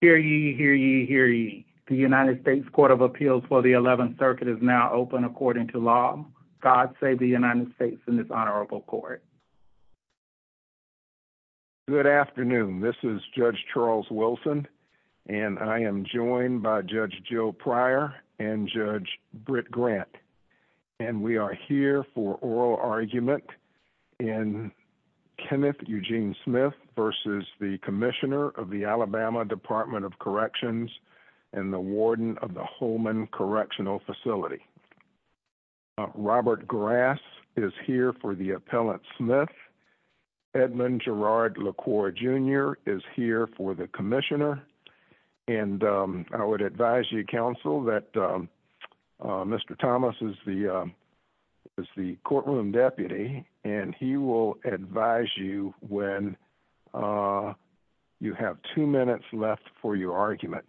Hear ye, hear ye, hear ye. The United States Court of Appeals for the 11th Circuit is now open according to law. God save the United States in this honorable court. Good afternoon. This is Judge Charles Wilson, and I am joined by Judge Jill Pryor and Judge Britt Grant. And we are here for oral argument in Kenneth Eugene Smith v. Commissioner Alabama Department of Corrections and the Warden of the Holman Correctional Facility. Robert Grass is here for the Appellant Smith. Edmund Gerard LaCour, Jr. is here for the Commissioner. And I would advise you, Counsel, that Mr. Thomas is the courtroom deputy, and he will advise you when you have two minutes left for your argument.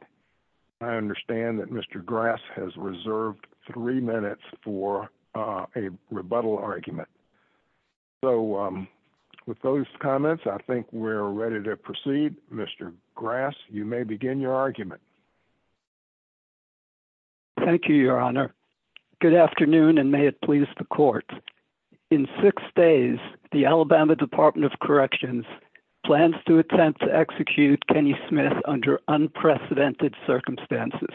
I understand that Mr. Grass has reserved three minutes for a rebuttal argument. So with those comments, I think we're ready to proceed. Mr. Grass, you may begin your argument. Thank you, Your Honor. Good afternoon, and may it please the court. In six days, the Alabama Department of Corrections plans to attempt to execute Kenny Smith under unprecedented circumstances.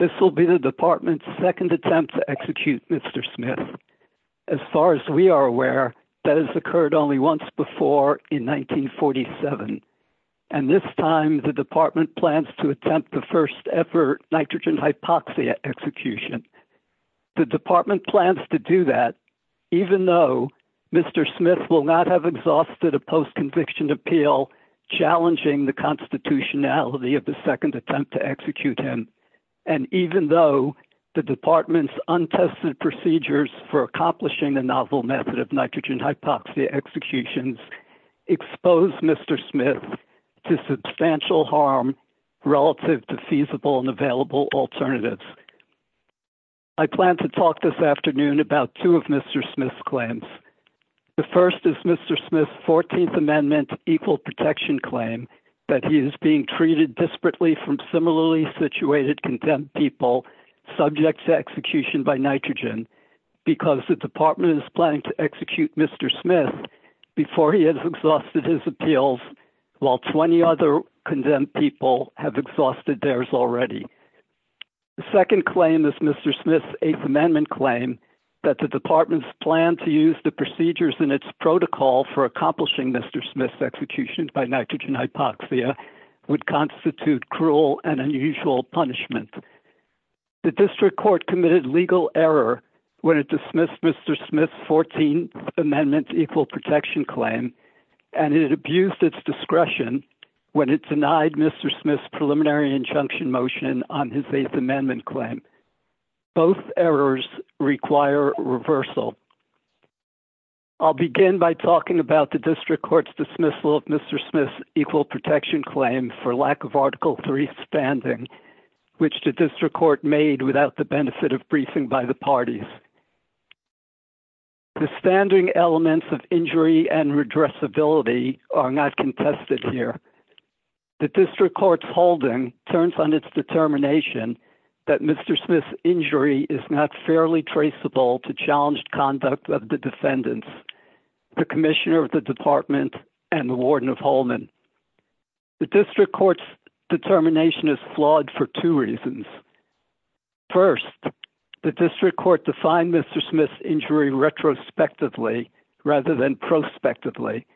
This will be the department's second attempt to execute Mr. Smith. As far as we are aware, that has occurred only once before in 1947. And this time, the department plans to attempt the first ever nitrogen hypoxia execution. The department plans to do that even though Mr. Smith will not have exhausted a post-conviction appeal challenging the constitutionality of the second attempt to execute him. And even though the department's untested procedures for accomplishing the novel method of nitrogen hypoxia executions expose Mr. Smith to substantial harm relative to feasible and available alternatives. I plan to talk this afternoon about two of Mr. Smith's claims. The first is Mr. Smith's 14th Amendment equal protection claim that he is being treated desperately from similarly situated condemned people subject to execution by nitrogen because the department is planning to execute Mr. Smith before he has exhausted his appeals while 20 other condemned people have exhausted theirs already. The second claim is Mr. Smith's 8th Amendment claim that the department's plan to use the procedures in its protocol for accomplishing Mr. Smith's execution by nitrogen hypoxia would constitute cruel and unusual punishment. The district court committed legal error when it dismissed Mr. Smith's 14th Amendment equal protection claim, and it abused its discretion when it denied Mr. Smith's preliminary injunction motion on his 8th Amendment claim. Both errors require reversal. I'll begin by talking about the district court's dismissal of Mr. Smith's equal protection claim for lack of Article III standing, which the district court made without the benefit of briefing by the parties. The standing elements of injury and redressability are not contested here. The district court's holding turns on its determination that Mr. Smith's injury is not fairly traceable to challenged conduct of the defendants, the commissioner of the department and the warden of Holman. The district court's determination is flawed for two reasons. First, the district court defined Mr. Smith's injury retrospectively rather than prospectively.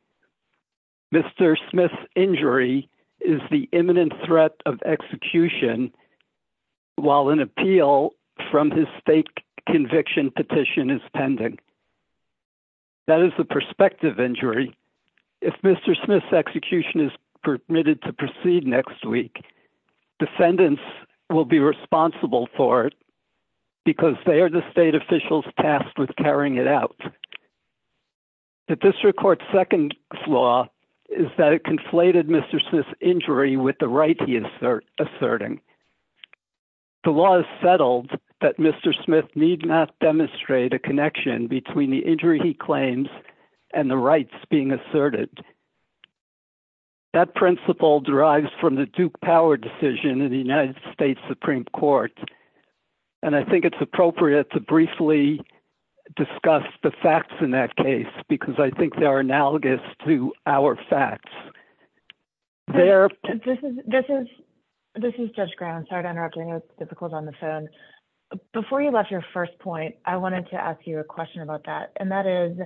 Mr. Smith's injury is the imminent threat of execution while an appeal from his state conviction petition is pending. That is the prospective injury. If Mr. Smith's execution is permitted to proceed next week, defendants will be responsible for it because they are the state officials tasked with carrying it out. The district court's second flaw is that it conflated Mr. Smith's injury with the right he is asserting. The law is settled that Mr. Smith need not demonstrate a connection between the injury he claims and the rights being asserted. That principle derives from the Duke Power decision in the United States Supreme Court, and I think it's appropriate to briefly discuss the facts in that case because I think they are analogous to our facts. This is Judge Brown. Sorry to interrupt. I know it's difficult on the phone. Before you left your first point, I wanted to ask you a question about that, and that is,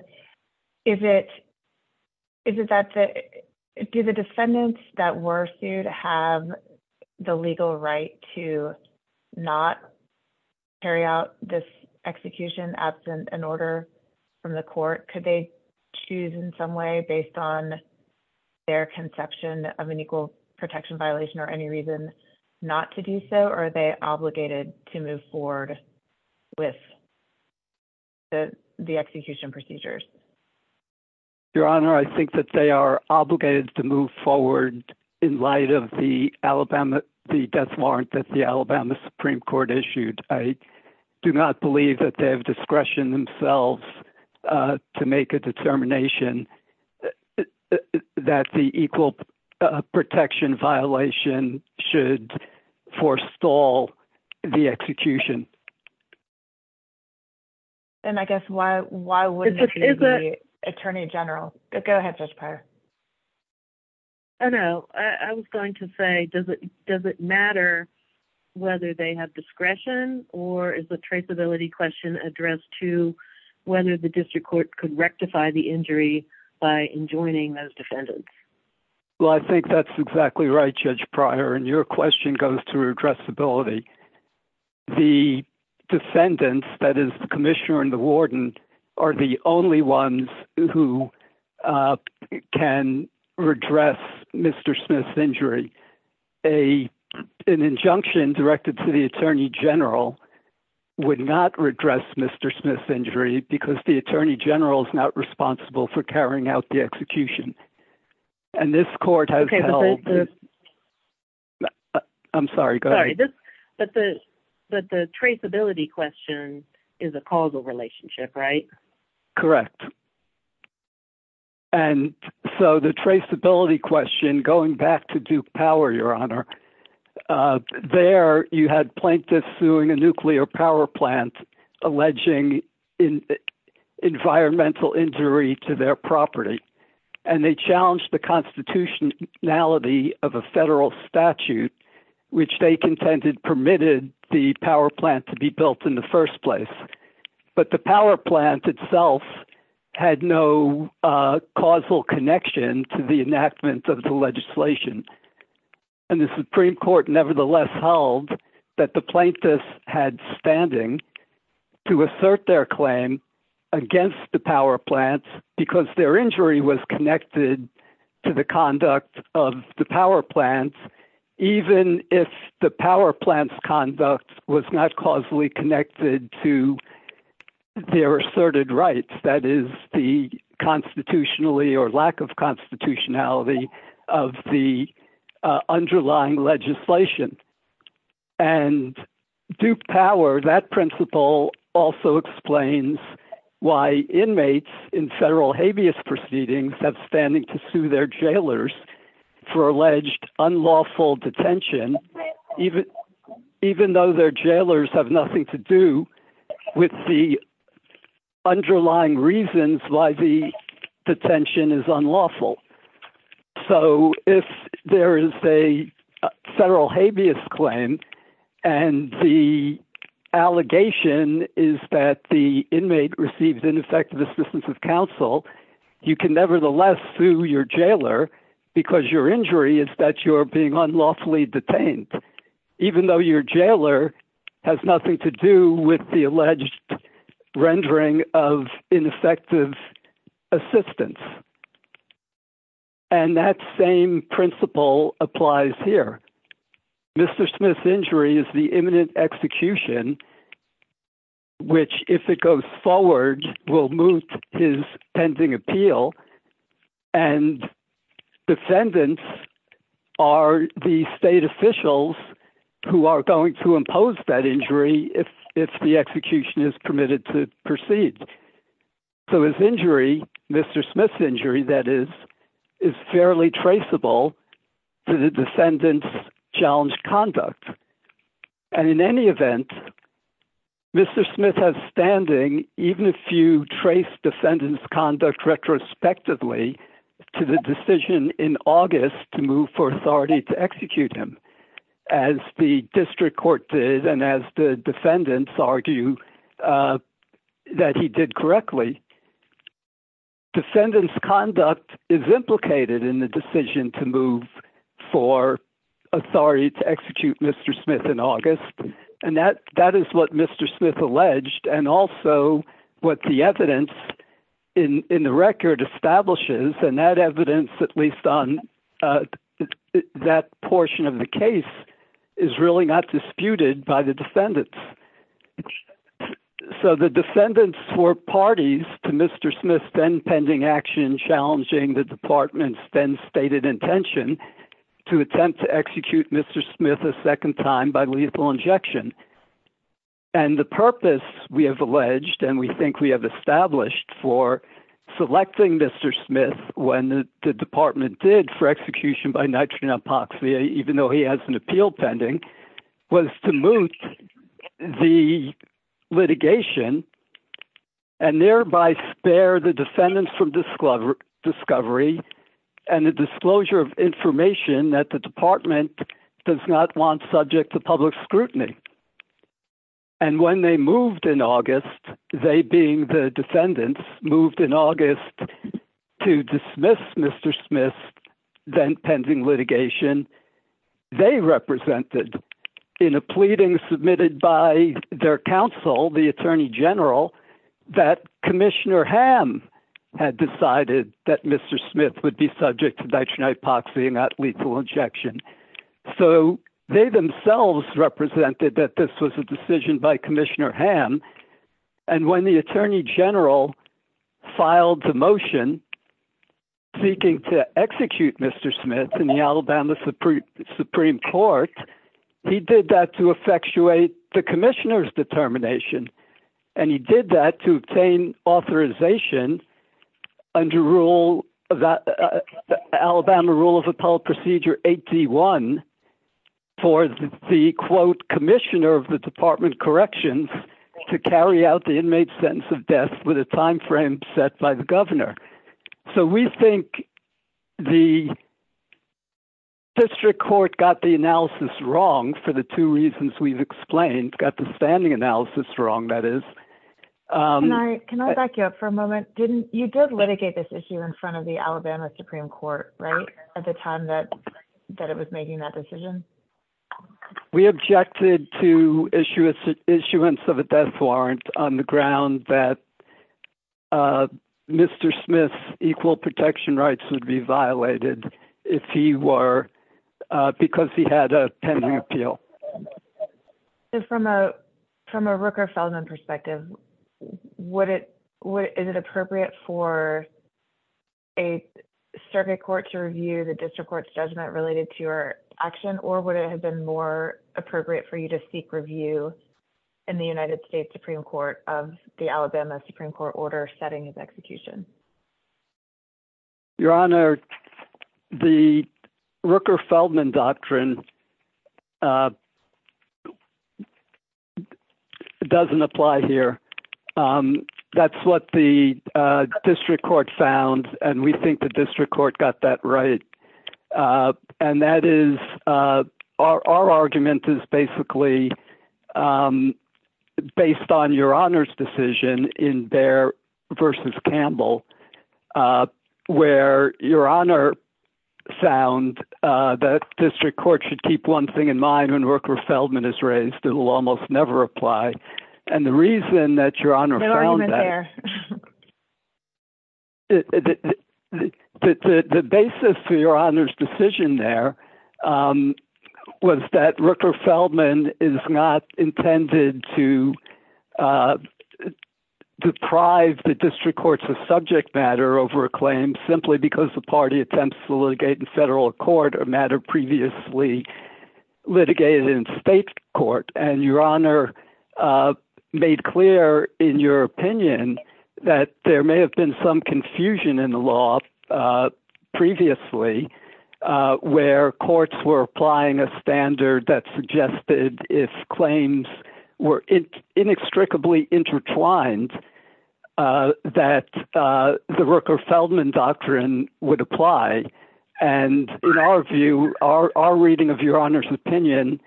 do the defendants that were sued have the legal right to not carry out this execution absent an order from the court? Could they choose in some way based on their conception of an equal protection violation or any reason not to do so, or are they obligated to move forward with the execution procedures? Your Honor, I think that they are obligated to move forward in light of the death warrant that the Alabama Supreme Court issued. I do not believe that they have discretion themselves to make a determination that the equal protection violation should forestall the execution. And I guess why wouldn't it be the Attorney General? Go ahead, Judge Pryor. I know. I was going to say, does it matter whether they have discretion or is the traceability question addressed to whether the district court could rectify the injury by enjoining those defendants? Well, I think that's exactly right, Judge Pryor, and your question goes to addressability. The defendants, that is, the commissioner and the warden, are the only ones who can redress Mr. Smith's injury. An injunction directed to the Attorney General would not redress Mr. Smith's injury because the Attorney General is not responsible for carrying out the execution. I'm sorry, go ahead. But the traceability question is a causal relationship, right? Correct. And so the traceability question, going back to Duke Power, Your Honor, there you had plaintiffs suing a nuclear power plant alleging environmental injury to their property. And they challenged the constitutionality of a federal statute, which they contended permitted the power plant to be built in the first place. But the power plant itself had no causal connection to the enactment of the legislation. And the Supreme Court nevertheless held that the plaintiffs had standing to assert their claim against the power plant because their injury was connected to the conduct of the power plant, even if the power plant's conduct was not causally connected to their asserted rights. That is the constitutionally or lack of constitutionality of the underlying legislation. And Duke Power, that principle also explains why inmates in federal habeas proceedings have standing to sue their jailers for alleged unlawful detention, even though their jailers have nothing to do with the underlying reasons why the detention is unlawful. So if there is a federal habeas claim and the allegation is that the inmate receives ineffective assistance of counsel, you can nevertheless sue your jailer because your injury is that you're being unlawfully detained, even though your jailer has nothing to do with the alleged rendering of ineffective assistance. And that same principle applies here. Mr. Smith's injury is the imminent execution, which, if it goes forward, will move his pending appeal, and defendants are the state officials who are going to impose that injury if the execution is permitted to proceed. So his injury, Mr. Smith's injury, that is, is fairly traceable to the defendant's challenged conduct. And in any event, Mr. Smith has standing, even if you trace defendant's conduct retrospectively to the decision in August to move for authority to execute him. As the district court did, and as the defendants argue that he did correctly, defendant's conduct is implicated in the decision to move for authority to execute Mr. Smith in August. And that is what Mr. Smith alleged, and also what the evidence in the record establishes, and that evidence, at least on that portion of the case, is really not disputed by the defendants. So the defendants were parties to Mr. Smith's then-pending action challenging the department's then-stated intention to attempt to execute Mr. Smith a second time by lethal injection. And the purpose, we have alleged, and we think we have established for selecting Mr. Smith when the department did for execution by nitrogen apoxia, even though he has an appeal pending, was to moot the litigation, and thereby spare the defendants from discovery and the disclosure of information that the department does not want subject to public scrutiny. And when they moved in August, they being the defendants, moved in August to dismiss Mr. Smith's then-pending litigation, they represented in a pleading submitted by their counsel, the Attorney General, that Commissioner Hamm had decided that Mr. Smith would be subject to nitrogen epoxy and not lethal injection. So they themselves represented that this was a decision by Commissioner Hamm, and when the Attorney General filed the motion seeking to execute Mr. Smith in the Alabama Supreme Court, he did that to effectuate the Commissioner's determination. And he did that to obtain authorization under Alabama Rule of Appellate Procedure 8D1 for the, quote, Commissioner of the Department of Corrections to carry out the inmate's sentence of death with a time frame set by the governor. So we think the district court got the analysis wrong for the two reasons we've explained, got the standing analysis wrong, that is. Can I back you up for a moment? You did litigate this issue in front of the Alabama Supreme Court, right, at the time that it was making that decision? We objected to issuance of a death warrant on the ground that Mr. Smith's equal protection rights would be violated if he were, because he had a pending appeal. From a Rooker-Feldman perspective, is it appropriate for a circuit court to review the district court's judgment related to your action, or would it have been more appropriate for you to seek review in the United States Supreme Court of the Alabama Supreme Court order setting of execution? Your Honor, the Rooker-Feldman doctrine doesn't apply here. That's what the district court found, and we think the district court got that right. And that is, our argument is basically based on Your Honor's decision in Bair v. Campbell, where Your Honor found that district court should keep one thing in mind when Rooker-Feldman is raised that will almost never apply. And the reason that Your Honor found that, the basis for Your Honor's decision there was that Rooker-Feldman is not intended to deprive the district courts of subject matter over a claim simply because the party attempts to litigate in federal court a matter previously litigated in state court. And Your Honor made clear in your opinion that there may have been some confusion in the law previously where courts were applying a standard that suggested if claims were inextricably intertwined that the Rooker-Feldman doctrine would apply. And in our view, our reading of Your Honor's opinion,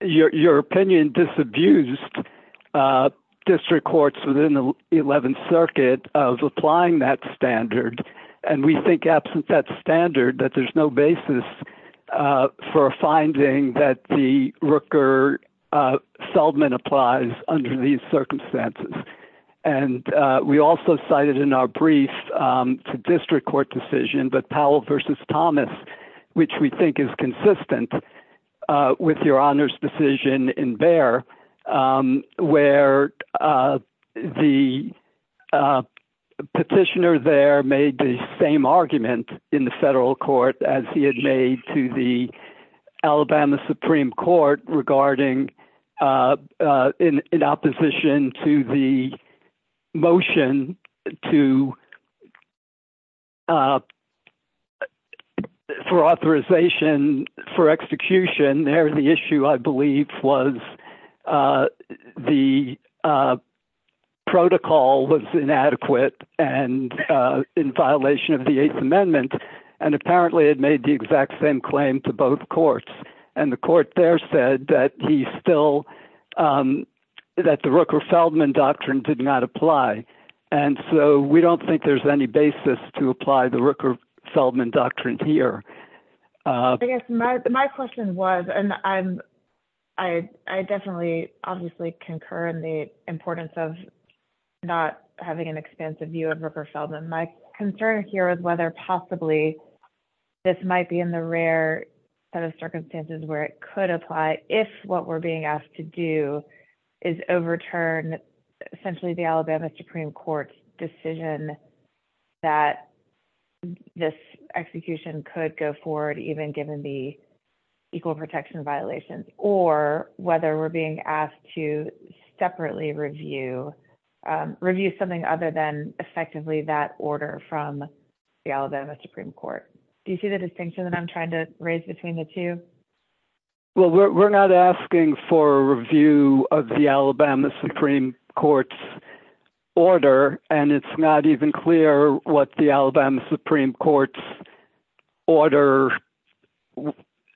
your opinion disabused district courts within the 11th Circuit of applying that standard. And we think absent that standard that there's no basis for finding that the Rooker-Feldman applies under these circumstances. And we also cited in our brief to district court decision that Powell v. Thomas, which we think is consistent with Your Honor's decision in Bair, where the petitioner there made the same argument in the federal court as he had made to the Alabama Supreme Court regarding in opposition to the motion for authorization for execution, there the issue I believe was the protocol was inadequate and in violation of the Eighth Amendment. And apparently it made the exact same claim to both courts. And the court there said that the Rooker-Feldman doctrine did not apply. And so we don't think there's any basis to apply the Rooker-Feldman doctrine here. I guess my question was, and I definitely obviously concur in the importance of not having an expansive view of Rooker-Feldman. My concern here is whether possibly this might be in the rare set of circumstances where it could apply if what we're being asked to do is overturn essentially the Alabama Supreme Court's decision that this execution could go forward, even given the equal protection violations, or whether we're being asked to separately review something other than effectively that order from the Alabama Supreme Court. Do you see the distinction that I'm trying to raise between the two? Well, we're not asking for a review of the Alabama Supreme Court's order, and it's not even clear what the Alabama Supreme Court's order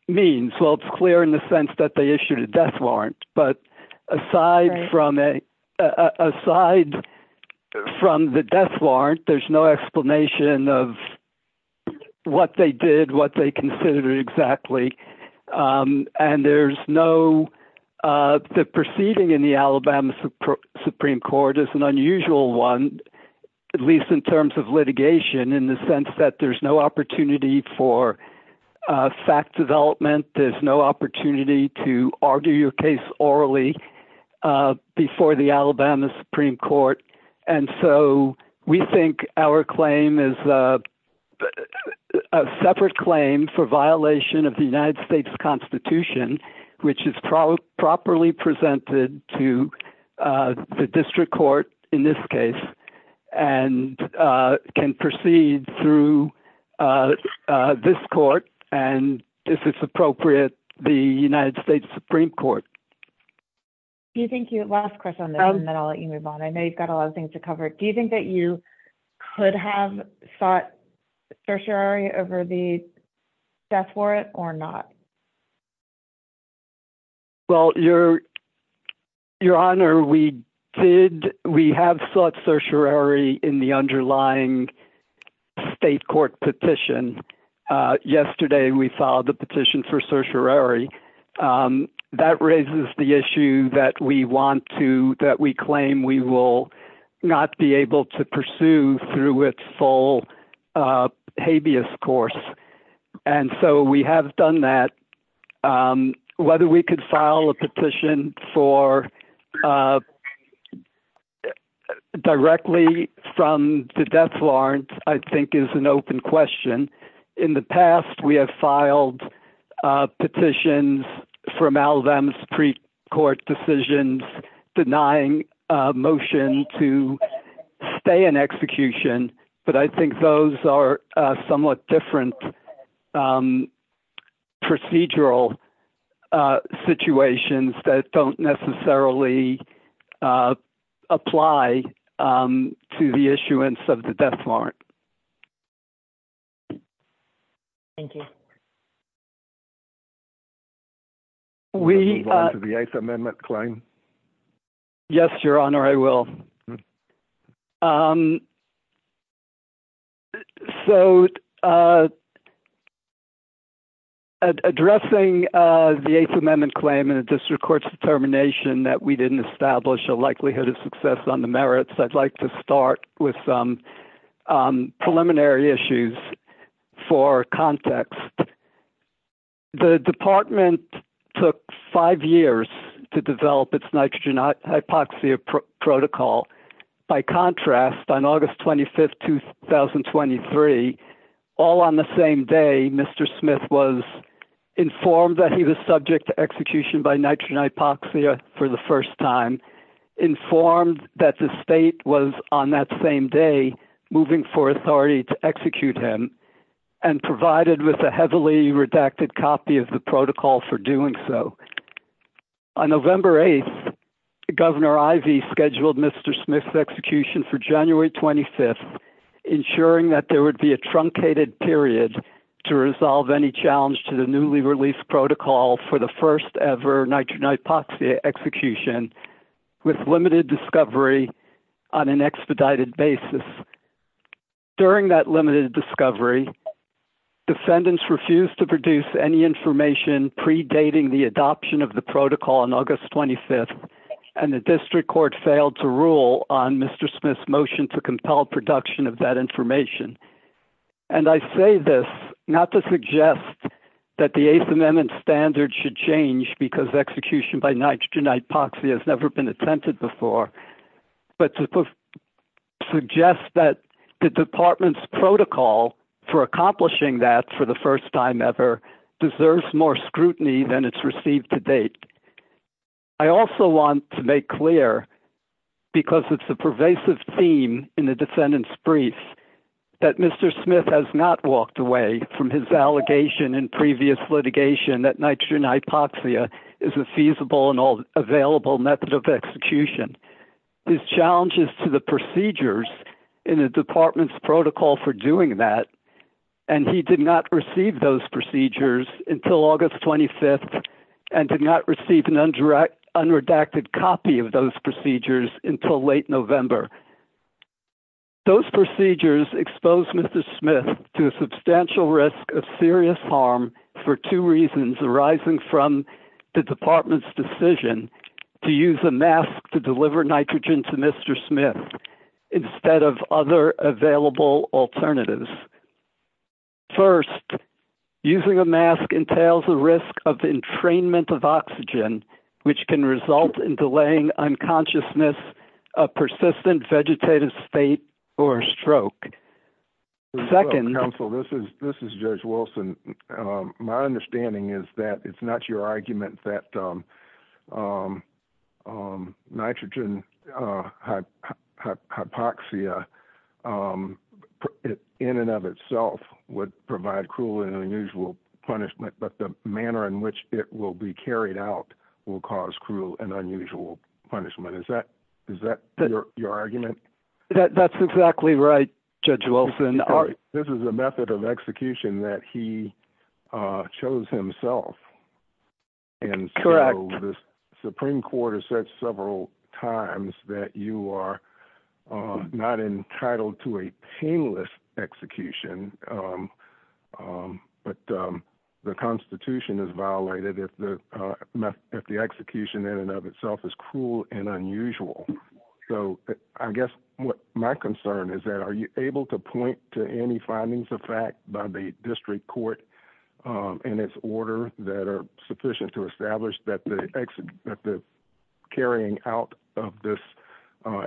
means. Well, it's clear in the sense that they issued a death warrant. But aside from the death warrant, there's no explanation of what they did, what they considered exactly. And the proceeding in the Alabama Supreme Court is an unusual one, at least in terms of litigation, in the sense that there's no opportunity for fact development, there's no opportunity to argue your case orally before the Alabama Supreme Court. And so we think our claim is a separate claim for violation of the United States Constitution, which is properly presented to the district court in this case, and can proceed through this court, and if it's appropriate, the United States Supreme Court. Last question, and then I'll let you move on. I know you've got a lot of things to cover. Do you think that you could have sought certiorari over the death warrant or not? Well, Your Honor, we have sought certiorari in the underlying state court petition. Yesterday, we filed a petition for certiorari. That raises the issue that we claim we will not be able to pursue through its full habeas course. And so we have done that. Whether we could file a petition directly from the death warrant, I think, is an open question. In the past, we have filed petitions from Alabama's precourt decisions denying a motion to stay in execution, but I think those are somewhat different procedural situations that don't necessarily apply to the issuance of the death warrant. Thank you. Will you move on to the Eighth Amendment claim? For context, the department took five years to develop its nitrogen hypoxia protocol. By contrast, on August 25th, 2023, all on the same day, Mr. Smith was informed that he was subject to execution by nitrogen hypoxia for the first time, informed that the state was on that same day moving for authority to execute him, and provided with a heavily redacted copy of the protocol for doing so. On November 8th, Governor Ivey scheduled Mr. Smith's execution for January 25th, ensuring that there would be a truncated period to resolve any challenge to the newly released protocol for the first ever nitrogen hypoxia execution with limited discovery on an expedited basis. During that limited discovery, defendants refused to produce any information predating the adoption of the protocol on August 25th, and the district court failed to rule on Mr. Smith's motion to compel production of that information. And I say this not to suggest that the Eighth Amendment standard should change because execution by nitrogen hypoxia has never been attempted before, but to suggest that the department's protocol for accomplishing that for the first time ever deserves more scrutiny than it's received to date. I also want to make clear, because it's a pervasive theme in the defendant's brief, that Mr. Smith has not walked away from his allegation in previous litigation that nitrogen hypoxia is a feasible and available method of execution. Mr. Smith did not walk away from his allegation in previous litigation that nitrogen hypoxia is a feasible and available method of execution. Mr. Smith did not walk away from his allegation in previous litigation that nitrogen hypoxia is a feasible and available method of execution. Mr. Smith did not walk away from his allegation in previous litigation that nitrogen hypoxia is a feasible and available method of execution. And so the Supreme Court has said several times that you are not entitled to a teamless execution, but the Constitution is violated if the execution in and of itself is cruel and unusual. So I guess my concern is that are you able to point to any findings of fact by the district court in its order that are sufficient to establish that the carrying out of this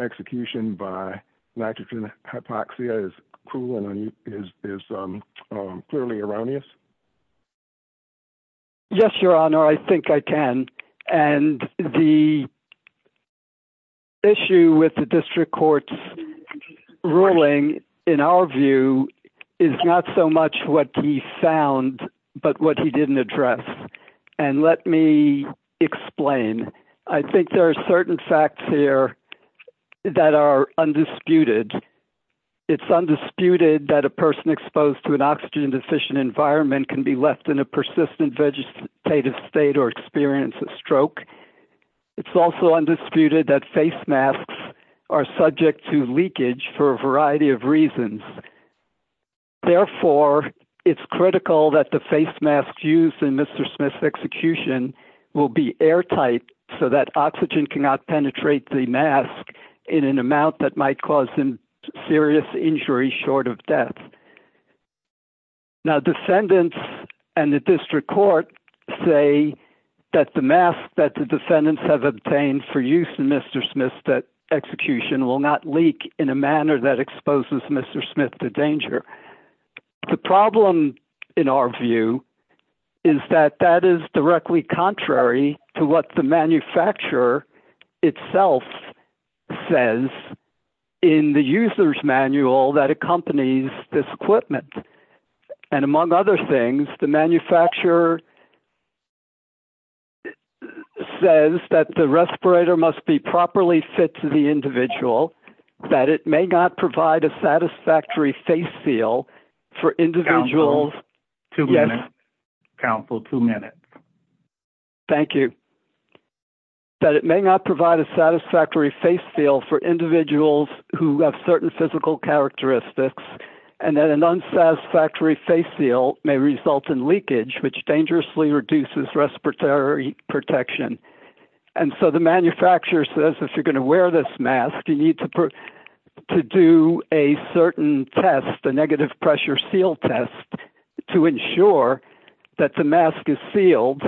execution by nitrogen hypoxia is cruel and is clearly erroneous? Yes, Your Honor, I think I can. And the issue with the district court's ruling, in our view, is not so much what he found, but what he didn't address. And let me explain. I think there are certain facts here that are undisputed. It's undisputed that a person exposed to an oxygen deficient environment can be left in a persistent vegetative state or experience a stroke. It's also undisputed that face masks are subject to leakage for a variety of reasons. Therefore, it's critical that the face masks used in Mr. Smith's execution will be airtight so that oxygen cannot penetrate the mask in an amount that might cause him serious injury short of death. Now, defendants and the district court say that the mask that the defendants have obtained for use in Mr. Smith's execution will not leak in a manner that exposes Mr. Smith to danger. The problem, in our view, is that that is directly contrary to what the manufacturer itself says in the user's manual that accompanies this equipment. And among other things, the manufacturer says that the respirator must be properly fit to the individual, that it may not provide a satisfactory face seal for individuals. Yes, counsel, two minutes. Thank you. That it may not provide a satisfactory face seal for individuals who have certain physical characteristics, and that an unsatisfactory face seal may result in leakage, which dangerously reduces respiratory protection. And so the manufacturer says, if you're going to wear this mask, you need to do a certain test, a negative pressure seal test to ensure that the mask is sealed.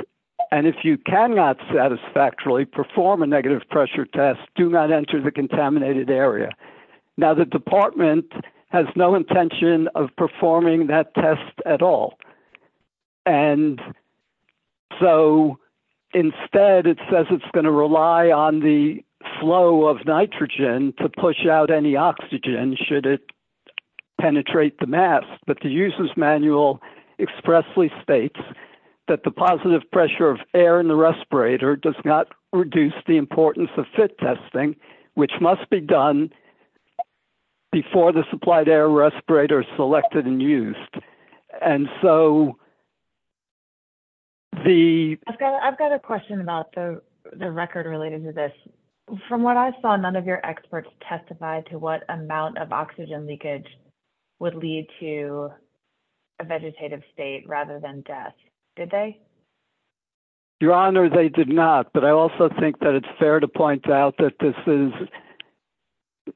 And if you cannot satisfactorily perform a negative pressure test, do not enter the contaminated area. Now, the department has no intention of performing that test at all. And so instead, it says it's going to rely on the flow of nitrogen to push out any oxygen should it penetrate the mask. But the user's manual expressly states that the positive pressure of air in the respirator does not reduce the importance of fit testing, which must be done before the supplied air respirator is selected and used. I've got a question about the record related to this. From what I saw, none of your experts testified to what amount of oxygen leakage would lead to a vegetative state rather than death. Did they? Your honor, they did not, but I also think that it's fair to point out that this is.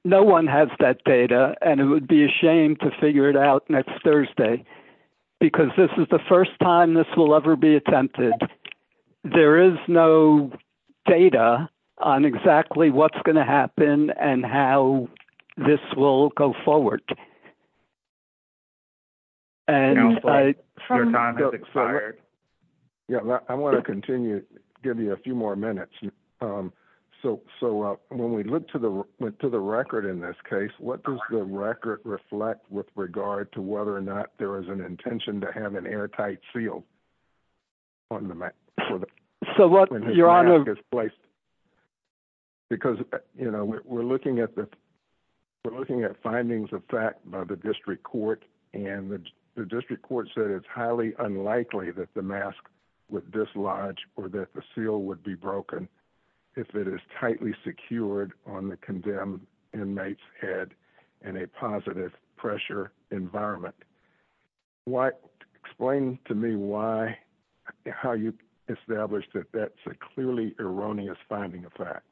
No, 1 has that data and it would be a shame to figure it out next Thursday, because this is the 1st time this will ever be attempted. There is no data on exactly what's going to happen and how this will go forward. I want to continue to give you a few more minutes. So when we look to the record in this case, what does the record reflect with regard to whether or not there is an intention to have an airtight seal on the mask? Your honor. Because, you know, we're looking at the. We're looking at findings of fact by the district court and the district court said it's highly unlikely that the mask with this large or that the seal would be broken. If it is tightly secured on the condemned inmates head and a positive pressure environment. Why explain to me why how you establish that that's a clearly erroneous finding of fact.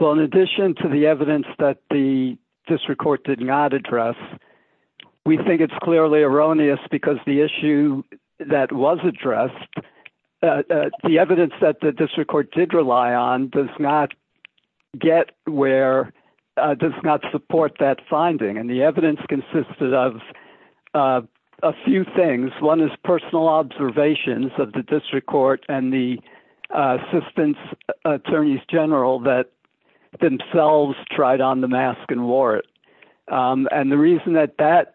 Well, in addition to the evidence that the district court did not address, we think it's clearly erroneous because the issue that was addressed. The evidence that the district court did rely on does not get where does not support that finding. And the evidence consisted of a few things. One is personal observations of the district court and the assistance attorneys general that themselves tried on the mask and wore it. And the reason that that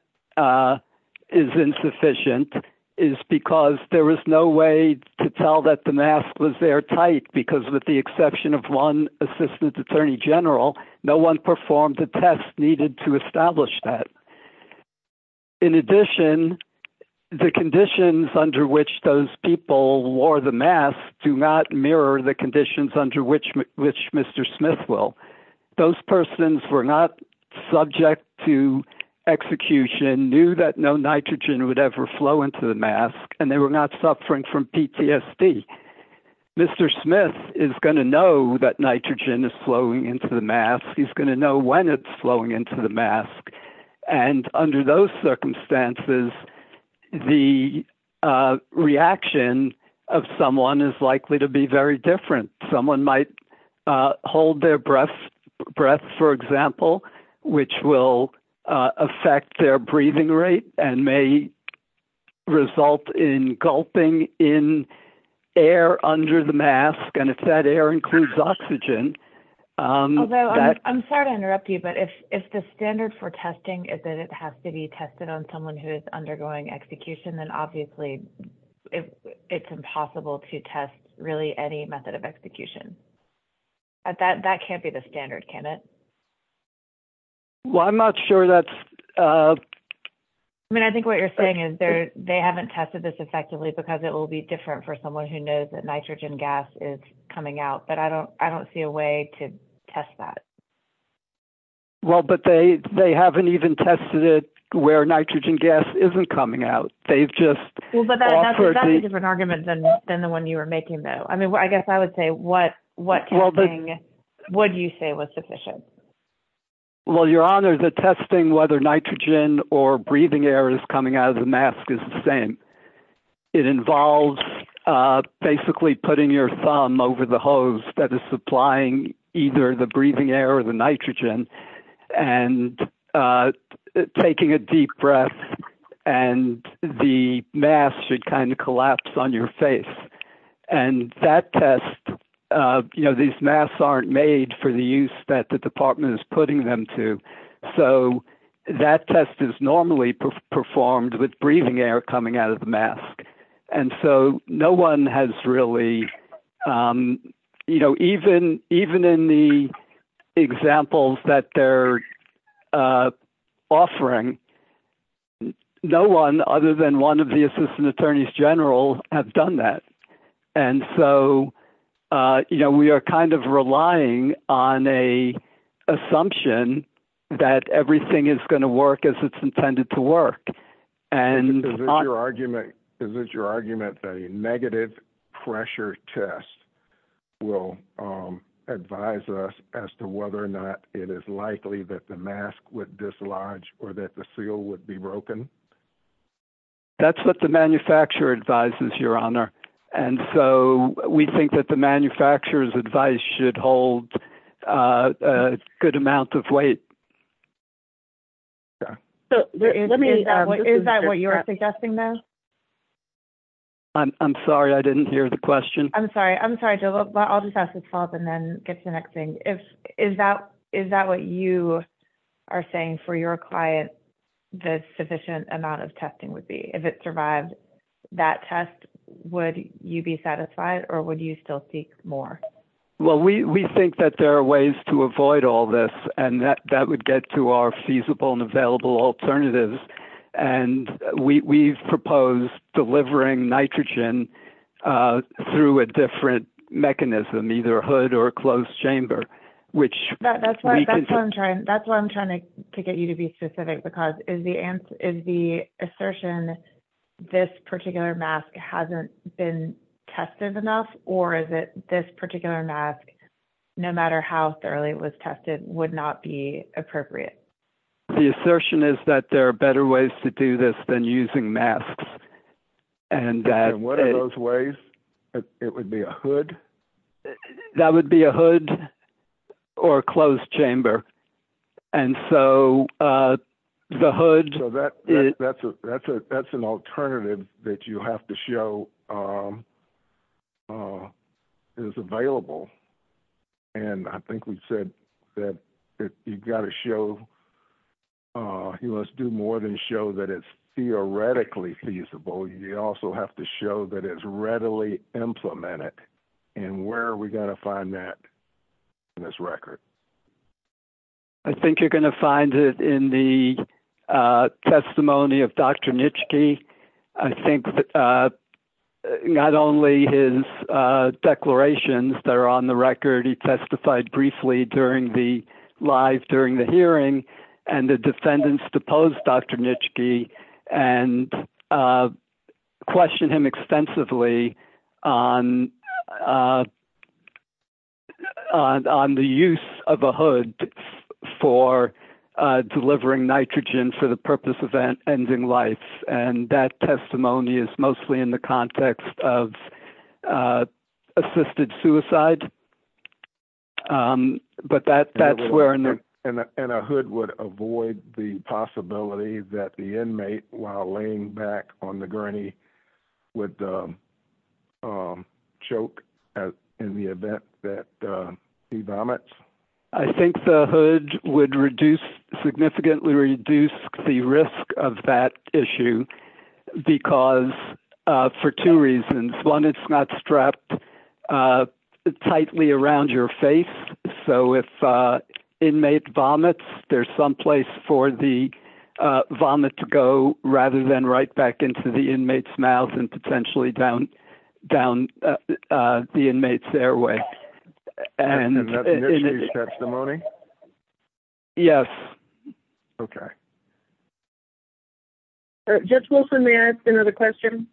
is insufficient is because there was no way to tell that the mask was there tight because, with the exception of one assistant attorney general, no one performed the test needed to establish that. In addition, the conditions under which those people wore the mask do not mirror the conditions under which which Mr. Smith will those persons were not subject to execution knew that no nitrogen would ever flow into the mask and they were not suffering from PTSD. Mr. Smith is going to know that nitrogen is flowing into the mask. He's going to know when it's flowing into the mask. And under those circumstances, the reaction of someone is likely to be very different. Someone might hold their breath breath, for example, which will affect their breathing rate and may result in gulping in air under the mask. And if that air includes oxygen. I'm sorry to interrupt you, but if the standard for testing is that it has to be tested on someone who is undergoing execution, then obviously it's impossible to test really any method of execution. That can't be the standard, can it? Well, I'm not sure that's. I mean, I think what you're saying is they haven't tested this effectively because it will be different for someone who knows that nitrogen gas is coming out. But I don't I don't see a way to test that. Well, but they haven't even tested it where nitrogen gas isn't coming out. They've just different arguments than the one you were making, though. I mean, I guess I would say what what would you say was sufficient? Well, your honor, the testing, whether nitrogen or breathing air is coming out of the mask is the same. It involves basically putting your thumb over the hose that is supplying either the breathing air or the nitrogen and taking a deep breath. And the mask should kind of collapse on your face. And that test, you know, these masks aren't made for the use that the department is putting them to. So that test is normally performed with breathing air coming out of the mask. And so no one has really, you know, even even in the examples that they're offering. No one other than one of the assistant attorneys general have done that. And so we are kind of relying on a assumption that everything is going to work as it's intended to work. And your argument, is it your argument that a negative pressure test will advise us as to whether or not it is likely that the mask would dislodge or that the seal would be broken? That's what the manufacturer advises, your honor. And so we think that the manufacturer's advice should hold a good amount of weight. Is that what you're suggesting then? I'm sorry, I didn't hear the question. I'm sorry. I'm sorry. I'll just have to pause and then get to the next thing. Is that is that what you are saying for your client? The sufficient amount of testing would be if it survived that test. Would you be satisfied or would you still seek more? Well, we think that there are ways to avoid all this and that that would get to our feasible and available alternatives. And we've proposed delivering nitrogen through a different mechanism, either hood or closed chamber, which. That's why I'm trying to get you to be specific, because the answer is the assertion. This particular mask hasn't been tested enough or is it this particular mask, no matter how thoroughly it was tested, would not be appropriate. The assertion is that there are better ways to do this than using masks. And what are those ways it would be a hood? That would be a hood or a closed chamber. And so the hood. That's an alternative that you have to show is available. And I think we've said that you've got to show. You must do more than show that it's theoretically feasible. You also have to show that it's readily implemented. And where are we going to find that in this record? I think you're going to find it in the testimony of Dr. And the defendants deposed Dr. And question him extensively on the use of a hood for delivering nitrogen for the purpose of ending life. And that testimony is mostly in the context of assisted suicide. But that that's where. And a hood would avoid the possibility that the inmate while laying back on the gurney with the choke in the event that he vomits. I think the hood would reduce significantly reduce the risk of that issue because for two reasons. One, it's not strapped tightly around your face. So if inmate vomits, there's some place for the vomit to go rather than right back into the inmate's mouth and potentially down down the inmate's airway. And that's the testimony. Yes. Okay. Judge Wilson, may I ask another question?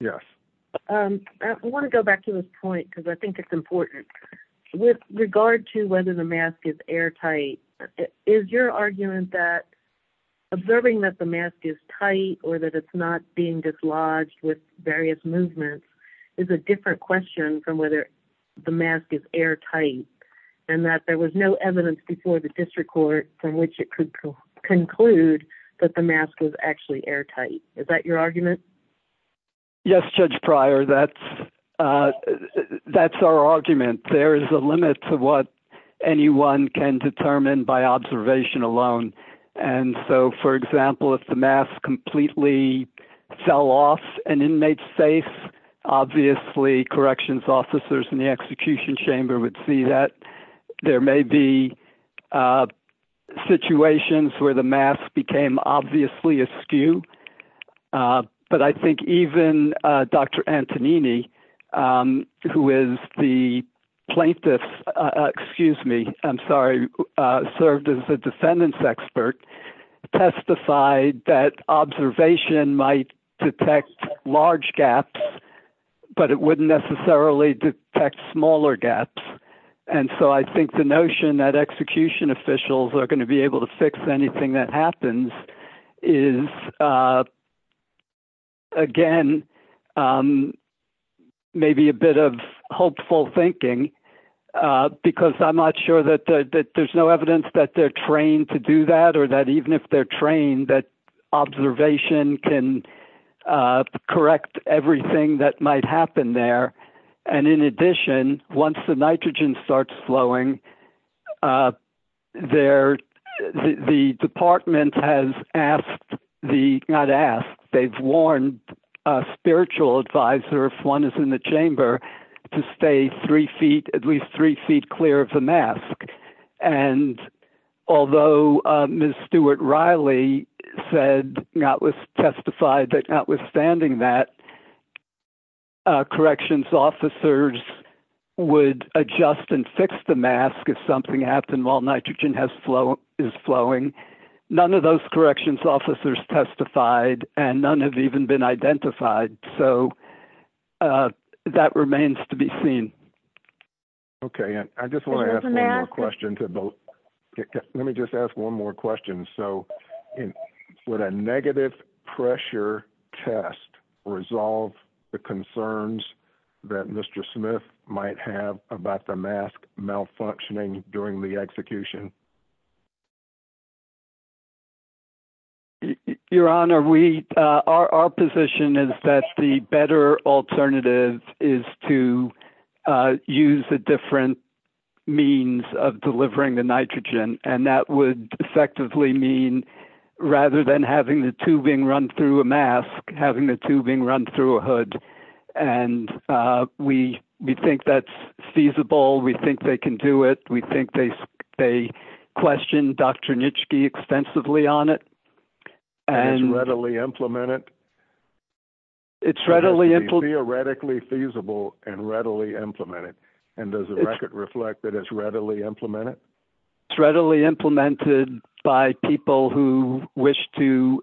Yes. I want to go back to this point because I think it's important with regard to whether the mask is airtight. Is your argument that observing that the mask is tight or that it's not being dislodged with various movements is a different question from whether the mask is airtight. And that there was no evidence before the district court from which it could conclude that the mask is actually airtight. Is that your argument? Yes, Judge Pryor. That's that's our argument. There is a limit to what anyone can determine by observation alone. And so, for example, if the mask completely fell off an inmate's face, obviously corrections officers in the execution chamber would see that. There may be situations where the mask became obviously askew. But I think even Dr. Antonini, who is the plaintiff, excuse me, I'm sorry, served as a defendant's expert, testified that observation might detect large gaps, but it wouldn't necessarily detect smaller gaps. And so I think the notion that execution officials are going to be able to fix anything that happens is. Again, maybe a bit of hopeful thinking, because I'm not sure that there's no evidence that they're trained to do that or that even if they're trained, that observation can correct everything that might happen there. And in addition, once the nitrogen starts flowing there, the department has asked the not ask, they've warned a spiritual advisor if one is in the chamber to stay three feet, at least three feet clear of the mask. And although Ms. Stuart Riley said, notwithstanding that, corrections officers would adjust and fix the mask if something happened while nitrogen is flowing. None of those corrections officers testified and none have even been identified. Okay, and I just want to ask a question to both. Let me just ask one more question. So, would a negative pressure test resolve the concerns that Mr. Smith might have about the mask malfunctioning during the execution? Your honor, we are our position is that the better alternative is to use a different means of delivering the nitrogen. And that would effectively mean, rather than having the tubing run through a mask, having the tubing run through a hood. And we think that's feasible. We think they can do it. We think they question Dr. Nitschke extensively on it. And it's readily implemented? It's readily implemented. Theoretically feasible and readily implemented. And does the record reflect that it's readily implemented? It's readily implemented by people who wish to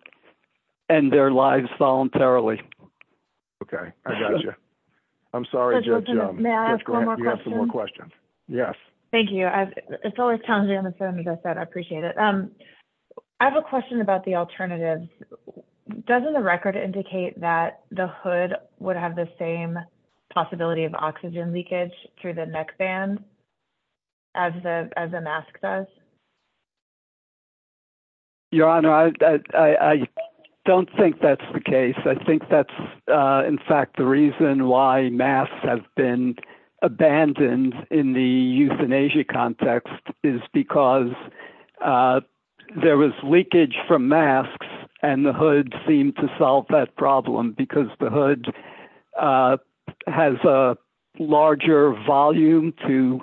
end their lives voluntarily. Okay. I got you. I'm sorry, Judge Jones. May I ask one more question? You have some more questions. Yes. Thank you. It's always challenging on the phone, as I said. I appreciate it. I have a question about the alternatives. Doesn't the record indicate that the hood would have the same possibility of oxygen leakage through the neck band as the mask does? Your honor, I don't think that's the case. I think that's, in fact, the reason why masks have been abandoned in the euthanasia context is because there was leakage from masks and the hood seemed to solve that problem because the hood has a larger volume to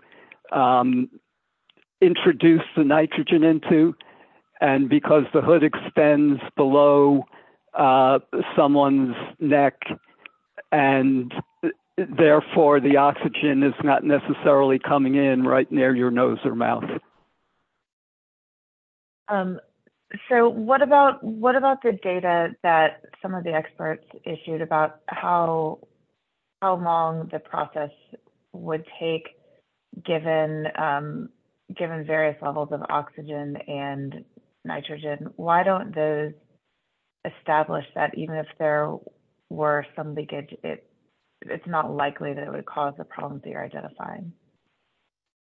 introduce the nitrogen into. And because the hood extends below someone's neck and, therefore, the oxygen is not necessarily coming in right near your nose or mouth. So what about the data that some of the experts issued about how long the process would take given various levels of oxygen and nitrogen? Why don't those establish that even if there were some leakage, it's not likely that it would cause the problems that you're identifying?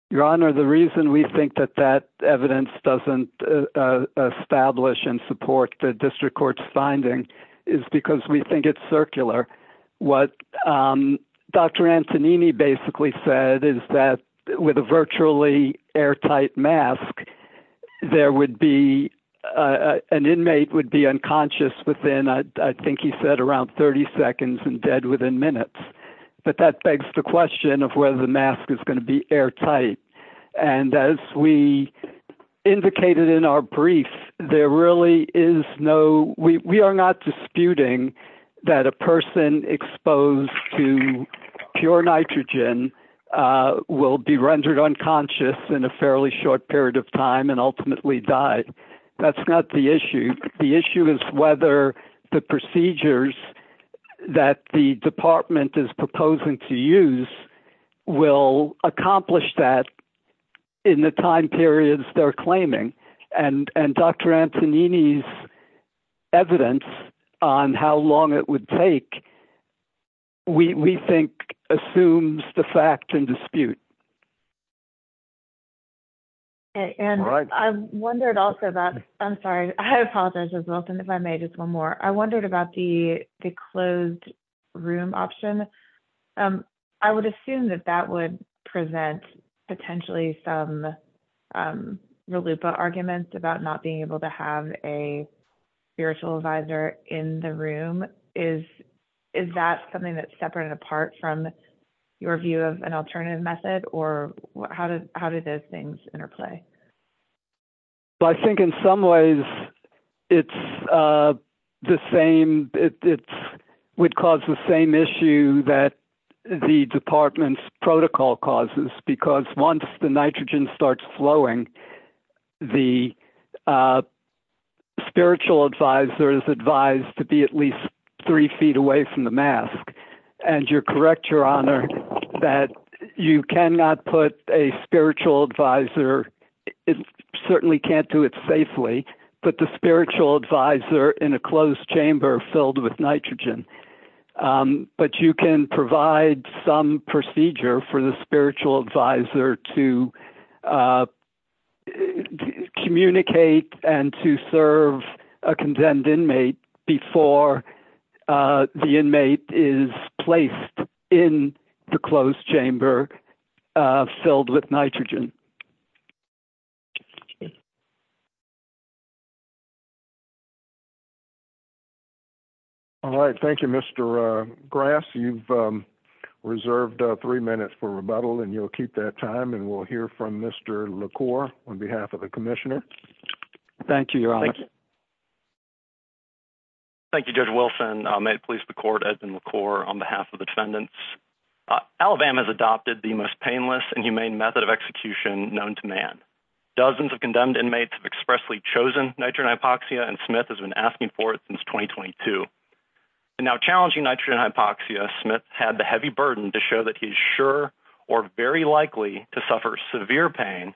Your honor, the reason we think that that evidence doesn't establish and support the district court's finding is because we think it's circular. What Dr. Antonini basically said is that with a virtually airtight mask, an inmate would be unconscious within, I think he said, around 30 seconds and dead within minutes. But that begs the question of whether the mask is going to be airtight. And as we indicated in our brief, there really is no – we are not disputing that a person exposed to pure nitrogen will be rendered unconscious in a fairly short period of time and ultimately die. That's not the issue. The issue is whether the procedures that the department is proposing to use will accomplish that in the time periods they're claiming. And Dr. Antonini's evidence on how long it would take, we think, assumes the fact and dispute. And I wondered also about – I'm sorry, I apologize, Ms. Wilson, if I may, just one more. I wondered about the closed room option. I would assume that that would present potentially some RLUIPA arguments about not being able to have a spiritual advisor in the room. Is that something that's separate and apart from your view of an alternative method? Or how do those things interplay? Well, I think in some ways it's the same – it would cause the same issue that the department's protocol causes. Because once the nitrogen starts flowing, the spiritual advisor is advised to be at least three feet away from the mask. And you're correct, Your Honor, that you cannot put a spiritual advisor – certainly can't do it safely – put the spiritual advisor in a closed chamber filled with nitrogen. But you can provide some procedure for the spiritual advisor to communicate and to serve a condemned inmate before the inmate is placed in the closed chamber filled with nitrogen. Thank you. All right. Thank you, Mr. Grass. You've reserved three minutes for rebuttal, and you'll keep that time. And we'll hear from Mr. LaCour on behalf of the commissioner. Thank you, Your Honor. Thank you, Judge Wilson. May it please the court, Edmund LaCour on behalf of the defendants. Alabama has adopted the most painless and humane method of execution known to man. Dozens of condemned inmates have expressly chosen nitrogen hypoxia, and Smith has been asking for it since 2022. In now challenging nitrogen hypoxia, Smith had the heavy burden to show that he's sure or very likely to suffer severe pain,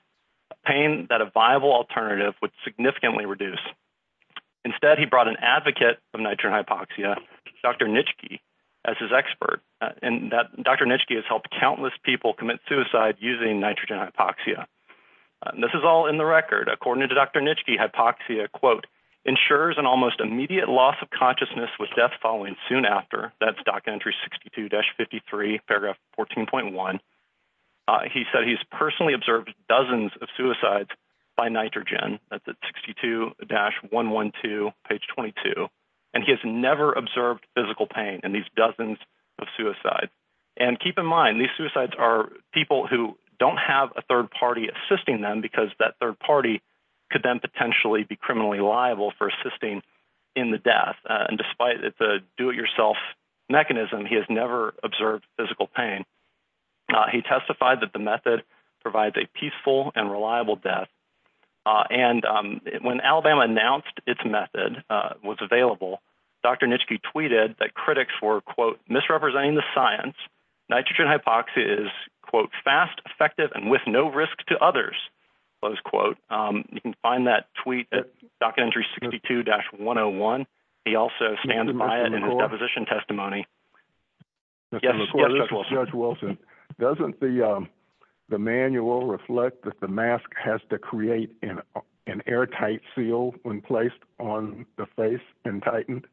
a pain that a viable alternative would significantly reduce. Instead, he brought an advocate of nitrogen hypoxia, Dr. Nitschke, as his expert. And Dr. Nitschke has helped countless people commit suicide using nitrogen hypoxia. This is all in the record. According to Dr. Nitschke, hypoxia, quote, ensures an almost immediate loss of consciousness with death following soon after. That's Doctrine entry 62-53, paragraph 14.1. He said he's personally observed dozens of suicides by nitrogen at the 62-112, page 22, and he has never observed physical pain in these dozens of suicides. And keep in mind, these suicides are people who don't have a third party assisting them because that third party could then potentially be criminally liable for assisting in the death. And despite the do-it-yourself mechanism, he has never observed physical pain. He testified that the method provides a peaceful and reliable death. And when Alabama announced its method was available, Dr. Nitschke tweeted that critics were, quote, misrepresenting the science. Nitrogen hypoxia is, quote, fast, effective, and with no risk to others, close quote. You can find that tweet at Doctrine entry 62-101. He also stands by it in his deposition testimony. Judge Wilson, doesn't the manual reflect that the mask has to create an airtight seal when placed on the face and tightened?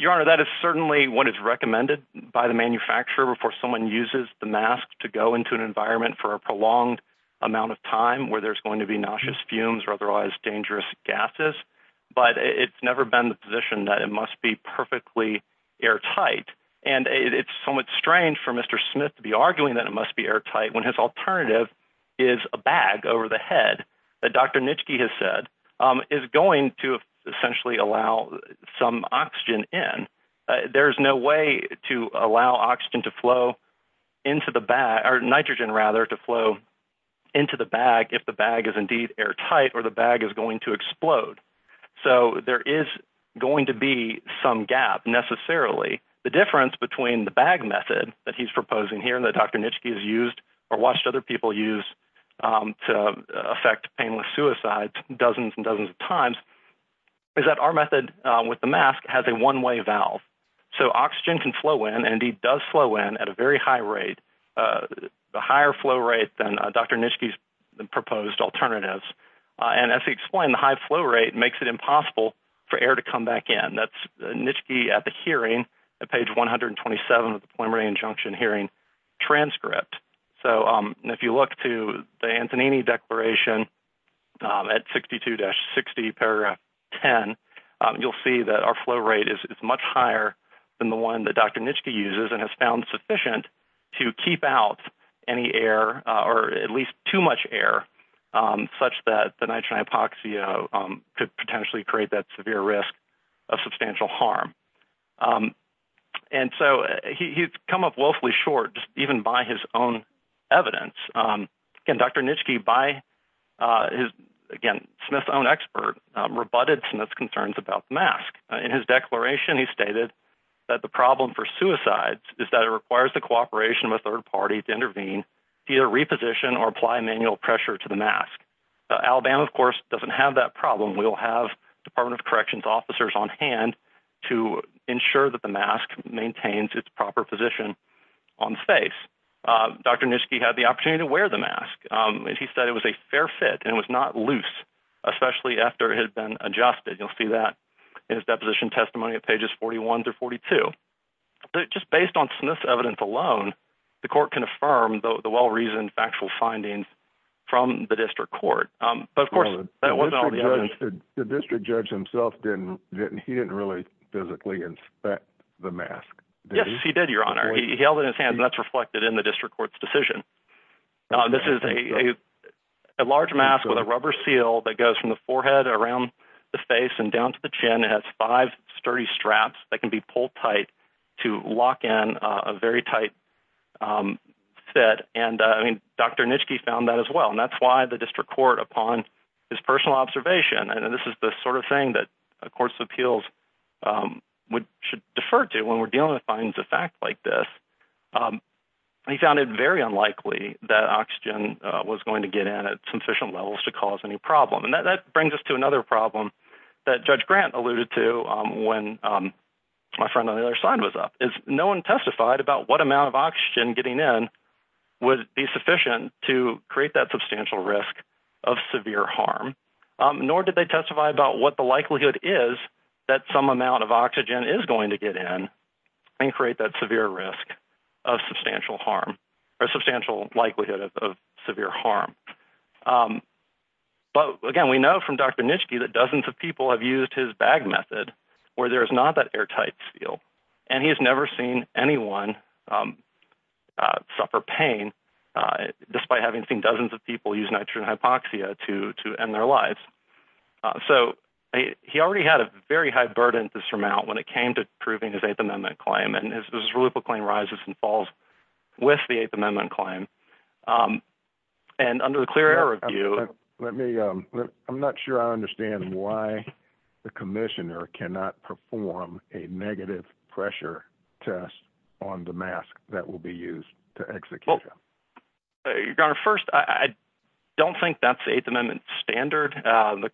Your Honor, that is certainly what is recommended by the manufacturer before someone uses the mask to go into an environment for a prolonged amount of time where there's going to be nauseous fumes or otherwise dangerous gases. But it's never been the position that it must be perfectly airtight. And it's somewhat strange for Mr. Smith to be arguing that it must be airtight when his alternative is a bag over the head that Dr. Nitschke has said is going to essentially allow some oxygen in. There's no way to allow oxygen to flow into the bag, or nitrogen rather, to flow into the bag if the bag is indeed airtight or the bag is going to explode. So there is going to be some gap necessarily. The difference between the bag method that he's proposing here that Dr. Nitschke has used or watched other people use to affect painless suicide dozens and dozens of times is that our method with the mask has a one-way valve. So oxygen can flow in and indeed does flow in at a very high rate, a higher flow rate than Dr. Nitschke's proposed alternatives. And as he explained, the high flow rate makes it impossible for air to come back in. And that's Nitschke at the hearing at page 127 of the preliminary injunction hearing transcript. So if you look to the Antonini Declaration at 62-60 paragraph 10, you'll see that our flow rate is much higher than the one that Dr. Nitschke uses and has found sufficient to keep out any air or at least too much air such that the nitrogen hypoxia could potentially create that severe risk of substantial harm. And so he's come up wealthily short even by his own evidence. Again, Dr. Nitschke, by his, again, Smith's own expert, rebutted Smith's concerns about the mask. In his declaration, he stated that the problem for suicides is that it requires the cooperation of a third party to intervene via reposition or apply manual pressure to the mask. Alabama, of course, doesn't have that problem. We'll have Department of Corrections officers on hand to ensure that the mask maintains its proper position on the face. Dr. Nitschke had the opportunity to wear the mask, and he said it was a fair fit and it was not loose, especially after it had been adjusted. You'll see that in his deposition testimony at pages 41 through 42. Just based on Smith's evidence alone, the court can affirm the well-reasoned factual findings from the district court. But, of course, that wasn't all the evidence. The district judge himself, he didn't really physically inspect the mask, did he? Yes, he did, Your Honor. He held it in his hand, and that's reflected in the district court's decision. This is a large mask with a rubber seal that goes from the forehead around the face and down to the chin. It has five sturdy straps that can be pulled tight to lock in a very tight fit. And, I mean, Dr. Nitschke found that as well, and that's why the district court, upon his personal observation, and this is the sort of thing that courts of appeals should defer to when we're dealing with findings of fact like this, he found it very unlikely that oxygen was going to get in at sufficient levels to cause any problem. And that brings us to another problem that Judge Grant alluded to when my friend on the other side was up. No one testified about what amount of oxygen getting in would be sufficient to create that substantial risk of severe harm, nor did they testify about what the likelihood is that some amount of oxygen is going to get in and create that severe risk of substantial harm or substantial likelihood of severe harm. But, again, we know from Dr. Nitschke that dozens of people have used his bag method where there's not that airtight seal, and he has never seen anyone suffer pain despite having seen dozens of people use nitrogen hypoxia to end their lives. So he already had a very high burden to surmount when it came to approving his Eighth Amendment claim, and this is where the claim rises and falls with the Eighth Amendment claim. I'm not sure I understand why the commissioner cannot perform a negative pressure test on the mask that will be used to execute him. First, I don't think that's the Eighth Amendment standard. The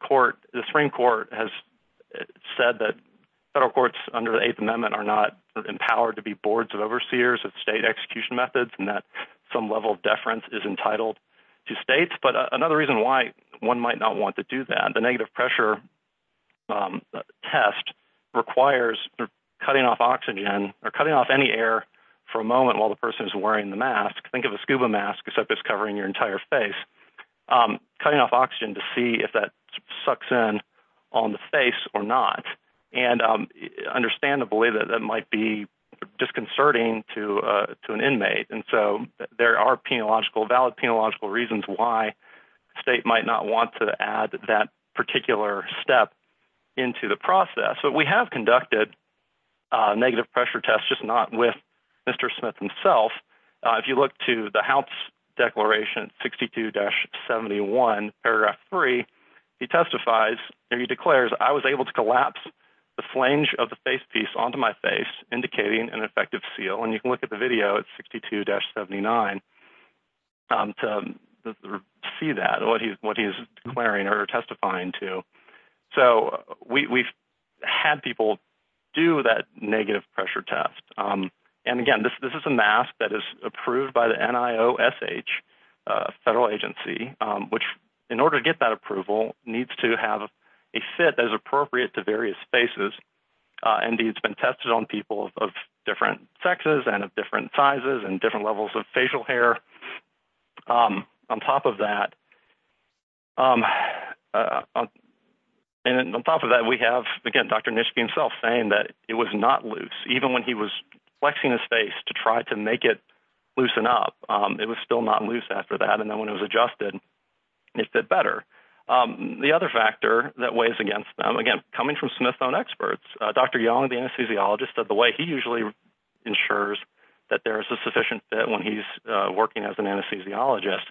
Supreme Court has said that federal courts under the Eighth Amendment are not empowered to be boards of overseers of state execution methods, and that some level of deference is entitled to states. But another reason why one might not want to do that, the negative pressure test requires cutting off oxygen or cutting off any air for a moment while the person is wearing the mask. Think of a scuba mask except it's covering your entire face. Cutting off oxygen to see if that sucks in on the face or not, and understandably, that might be disconcerting to an inmate. And so there are valid penological reasons why the state might not want to add that particular step into the process. But we have conducted negative pressure tests, just not with Mr. Smith himself. If you look to the House Declaration 62-71, paragraph 3, he testifies and he declares, I was able to collapse the flange of the face piece onto my face, indicating an effective seal. And you can look at the video at 62-79 to see that, what he's declaring or testifying to. So we've had people do that negative pressure test. And again, this is a mask that is approved by the NIOSH federal agency, which in order to get that approval, needs to have a fit that is appropriate to various faces. Indeed, it's been tested on people of different sexes and of different sizes and different levels of facial hair. On top of that, we have, again, Dr. Nischke himself saying that it was not loose. Even when he was flexing his face to try to make it loosen up, it was still not loose after that. And then when it was adjusted, it fit better. The other factor that weighs against them, again, coming from Smith's own experts, Dr. Young, the anesthesiologist, the way he usually ensures that there is a sufficient fit when he's working as an anesthesiologist,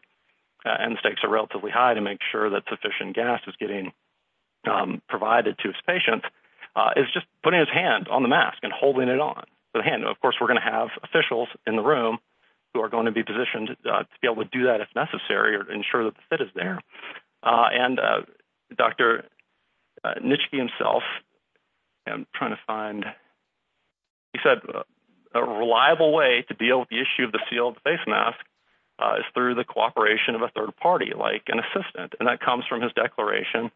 and the stakes are relatively high to make sure that sufficient gas is getting provided to his patients, is just putting his hand on the mask and holding it on. Of course, we're going to have officials in the room who are going to be positioned to be able to do that if necessary, to ensure that the fit is there. And Dr. Nischke himself, trying to find, he said, a reliable way to deal with the issue of the sealed face mask is through the cooperation of a third party, like an assistant. And that comes from his declaration.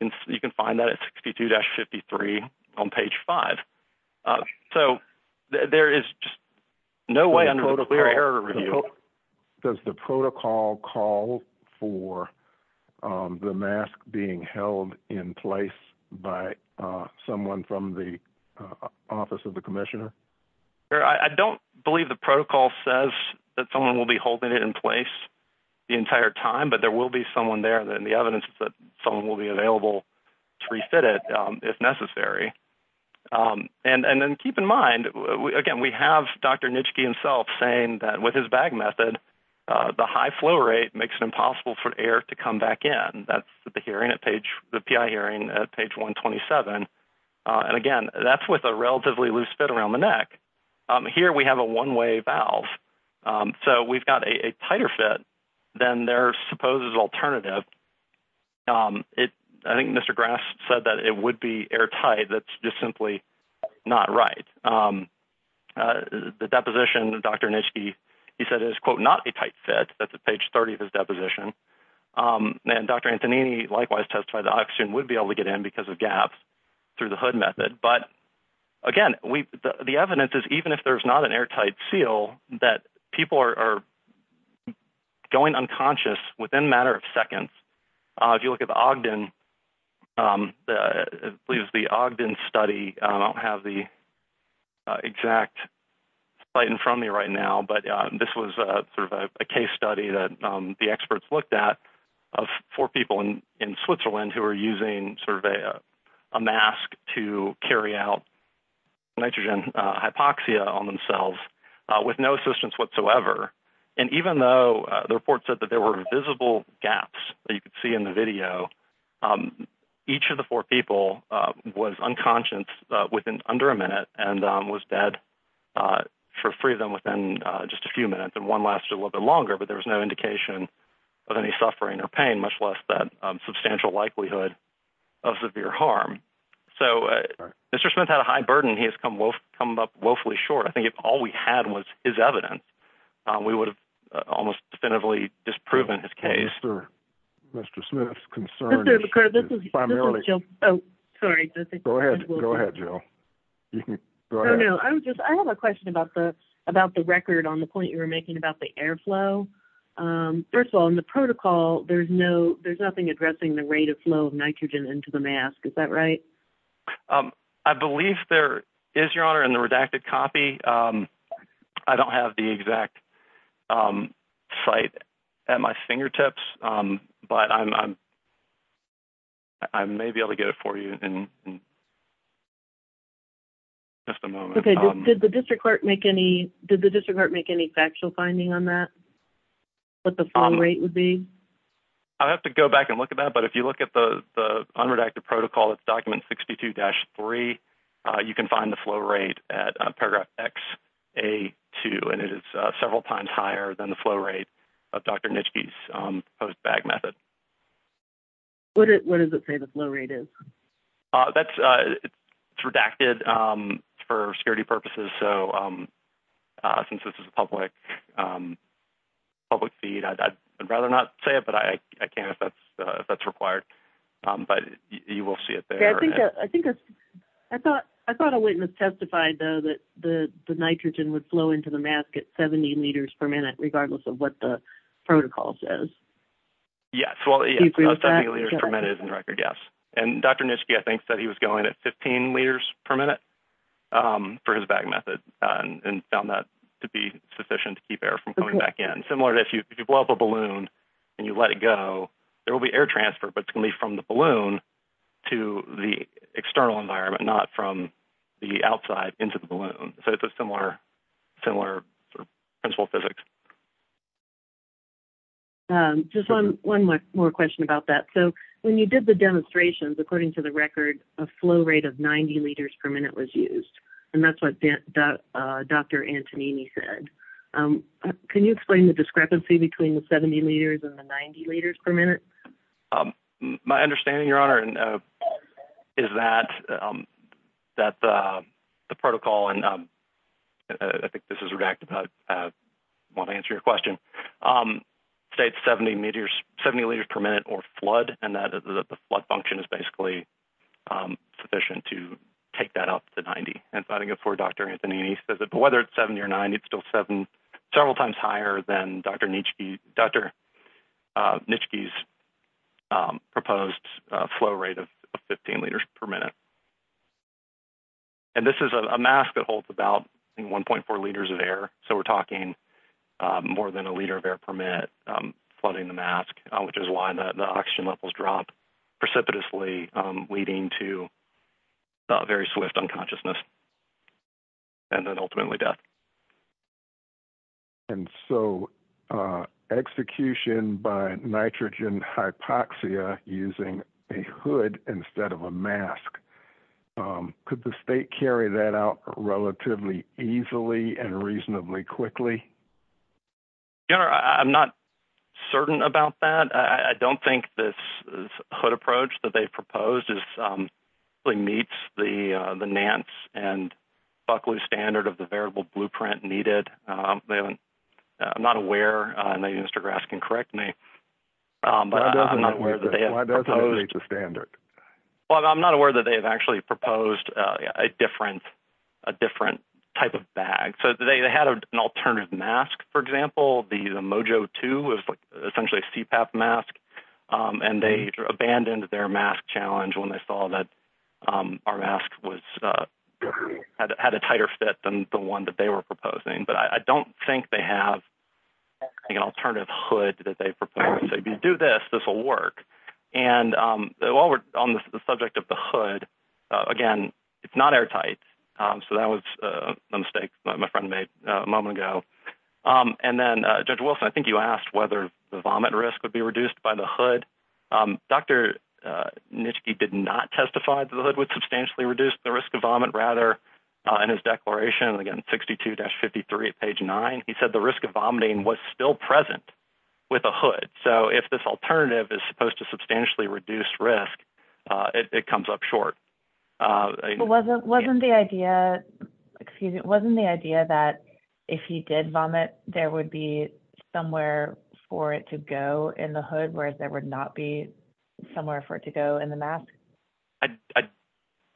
And you can find that at 62-53 on page 5. So there is just no way I'm going to compare or review. Does the protocol call for the mask being held in place by someone from the office of the commissioner? I don't believe the protocol says that someone will be holding it in place the entire time, but there will be someone there, and the evidence is that someone will be available to refit it if necessary. And then keep in mind, again, we have Dr. Nischke himself saying that with his bag method, the high flow rate makes it impossible for air to come back in. That's the hearing at page, the PI hearing at page 127. And again, that's with a relatively loose fit around the neck. Here we have a one-way valve. So we've got a tighter fit than their supposed alternative. I think Mr. Grass said that it would be airtight. That's just simply not right. The deposition, Dr. Nischke, he said it is, quote, not a tight fit. That's at page 30 of his deposition. And Dr. Antonini likewise testified that oxygen would be able to get in because of gaps through the hood method. But again, the evidence is even if there's not an airtight seal, that people are going unconscious within a matter of seconds. If you look at the Ogden study, I don't have the exact slide in front of me right now, but this was sort of a case study that the experts looked at of four people in Switzerland who were using sort of a mask to carry out nitrogen hypoxia on themselves with no assistance whatsoever. And even though the report said that there were visible gaps that you could see in the video, each of the four people was unconscious within under a minute and was dead for freedom within just a few minutes. And one lasted a little bit longer, but there was no indication of any suffering or pain, much less the substantial likelihood of severe harm. So Mr. Smith had a high burden. He has come up woefully short. I think if all we had was his evidence, we would have almost definitively disproven his case. Mr. Smith's concern is primarily. Oh, sorry. Go ahead, Jill. I have a question about the record on the point you were making about the airflow. First of all, in the protocol, there's nothing addressing the rate of flow of nitrogen into the mask. Is that right? I believe there is, Your Honor, in the redacted copy. I don't have the exact site at my fingertips, but I may be able to get it for you in just a moment. Okay. Did the district court make any factual finding on that, what the flow rate would be? I'll have to go back and look at that, but if you look at the unredacted protocol, it's document 62-3. You can find the flow rate at paragraph XA2, and it is several times higher than the flow rate of Dr. Nitschke's post-bag method. What does it say the flow rate is? It's redacted for security purposes. So since this is a public feed, I'd rather not say it, but I can if that's required. But you will see it there. Okay. I thought a witness testified, though, that the nitrogen would flow into the mask at 70 liters per minute, regardless of what the protocol says. Yes, well, 70 liters per minute is in the record, yes. And Dr. Nitschke, I think, said he was going at 15 liters per minute for his bag method and found that to be sufficient to keep air from coming back in. It's similar to if you blow up a balloon and you let it go, there will be air transfer, but it's going to be from the balloon to the external environment, not from the outside into the balloon. So it's a similar principle physics. Just one more question about that. So when you did the demonstrations, according to the record, a flow rate of 90 liters per minute was used, and that's what Dr. Antonini said. Can you explain the discrepancy between the 70 liters and the 90 liters per minute? My understanding, Your Honor, is that the protocol, and I think this is redacted, but I want to answer your question, states 70 liters per minute or flood, and that the flood function is basically sufficient to take that up to 90. Dr. Antonini says that whether it's 70 or 90, it's still several times higher than Dr. Nitschke's proposed flow rate of 15 liters per minute. And this is a mask that holds about 1.4 liters of air, so we're talking more than a liter of air per minute flooding the mask, which is why the oxygen levels drop precipitously, leading to very swift unconsciousness and then ultimately death. And so execution by nitrogen hypoxia using a hood instead of a mask, could the state carry that out relatively easily and reasonably quickly? Your Honor, I'm not certain about that. I don't think this hood approach that they proposed meets the Nance and Buckley standard of the variable blueprint needed. I'm not aware. I know you, Mr. Graf, can correct me. Why doesn't it meet the standard? Well, I'm not aware that they've actually proposed a different type of bag. So they had an alternative mask, for example. The Mojo 2 was essentially a CPAP mask, and they abandoned their mask challenge when they saw that our mask had a tighter fit than the one that they were proposing. But I don't think they have an alternative hood that they proposed. If you do this, this will work. And while we're on the subject of the hood, again, it's not airtight. So that was a mistake my friend made a moment ago. And then, Judge Wilson, I think you asked whether the vomit risk would be reduced by the hood. Dr. Nitschke did not testify that the hood would substantially reduce the risk of vomit. Rather, in his declaration, again, 62-53, page 9, he said the risk of vomiting was still present with the hood. So if this alternative is supposed to substantially reduce risk, it comes up short. Wasn't the idea that if he did vomit, there would be somewhere for it to go in the hood, whereas there would not be somewhere for it to go in the mask? I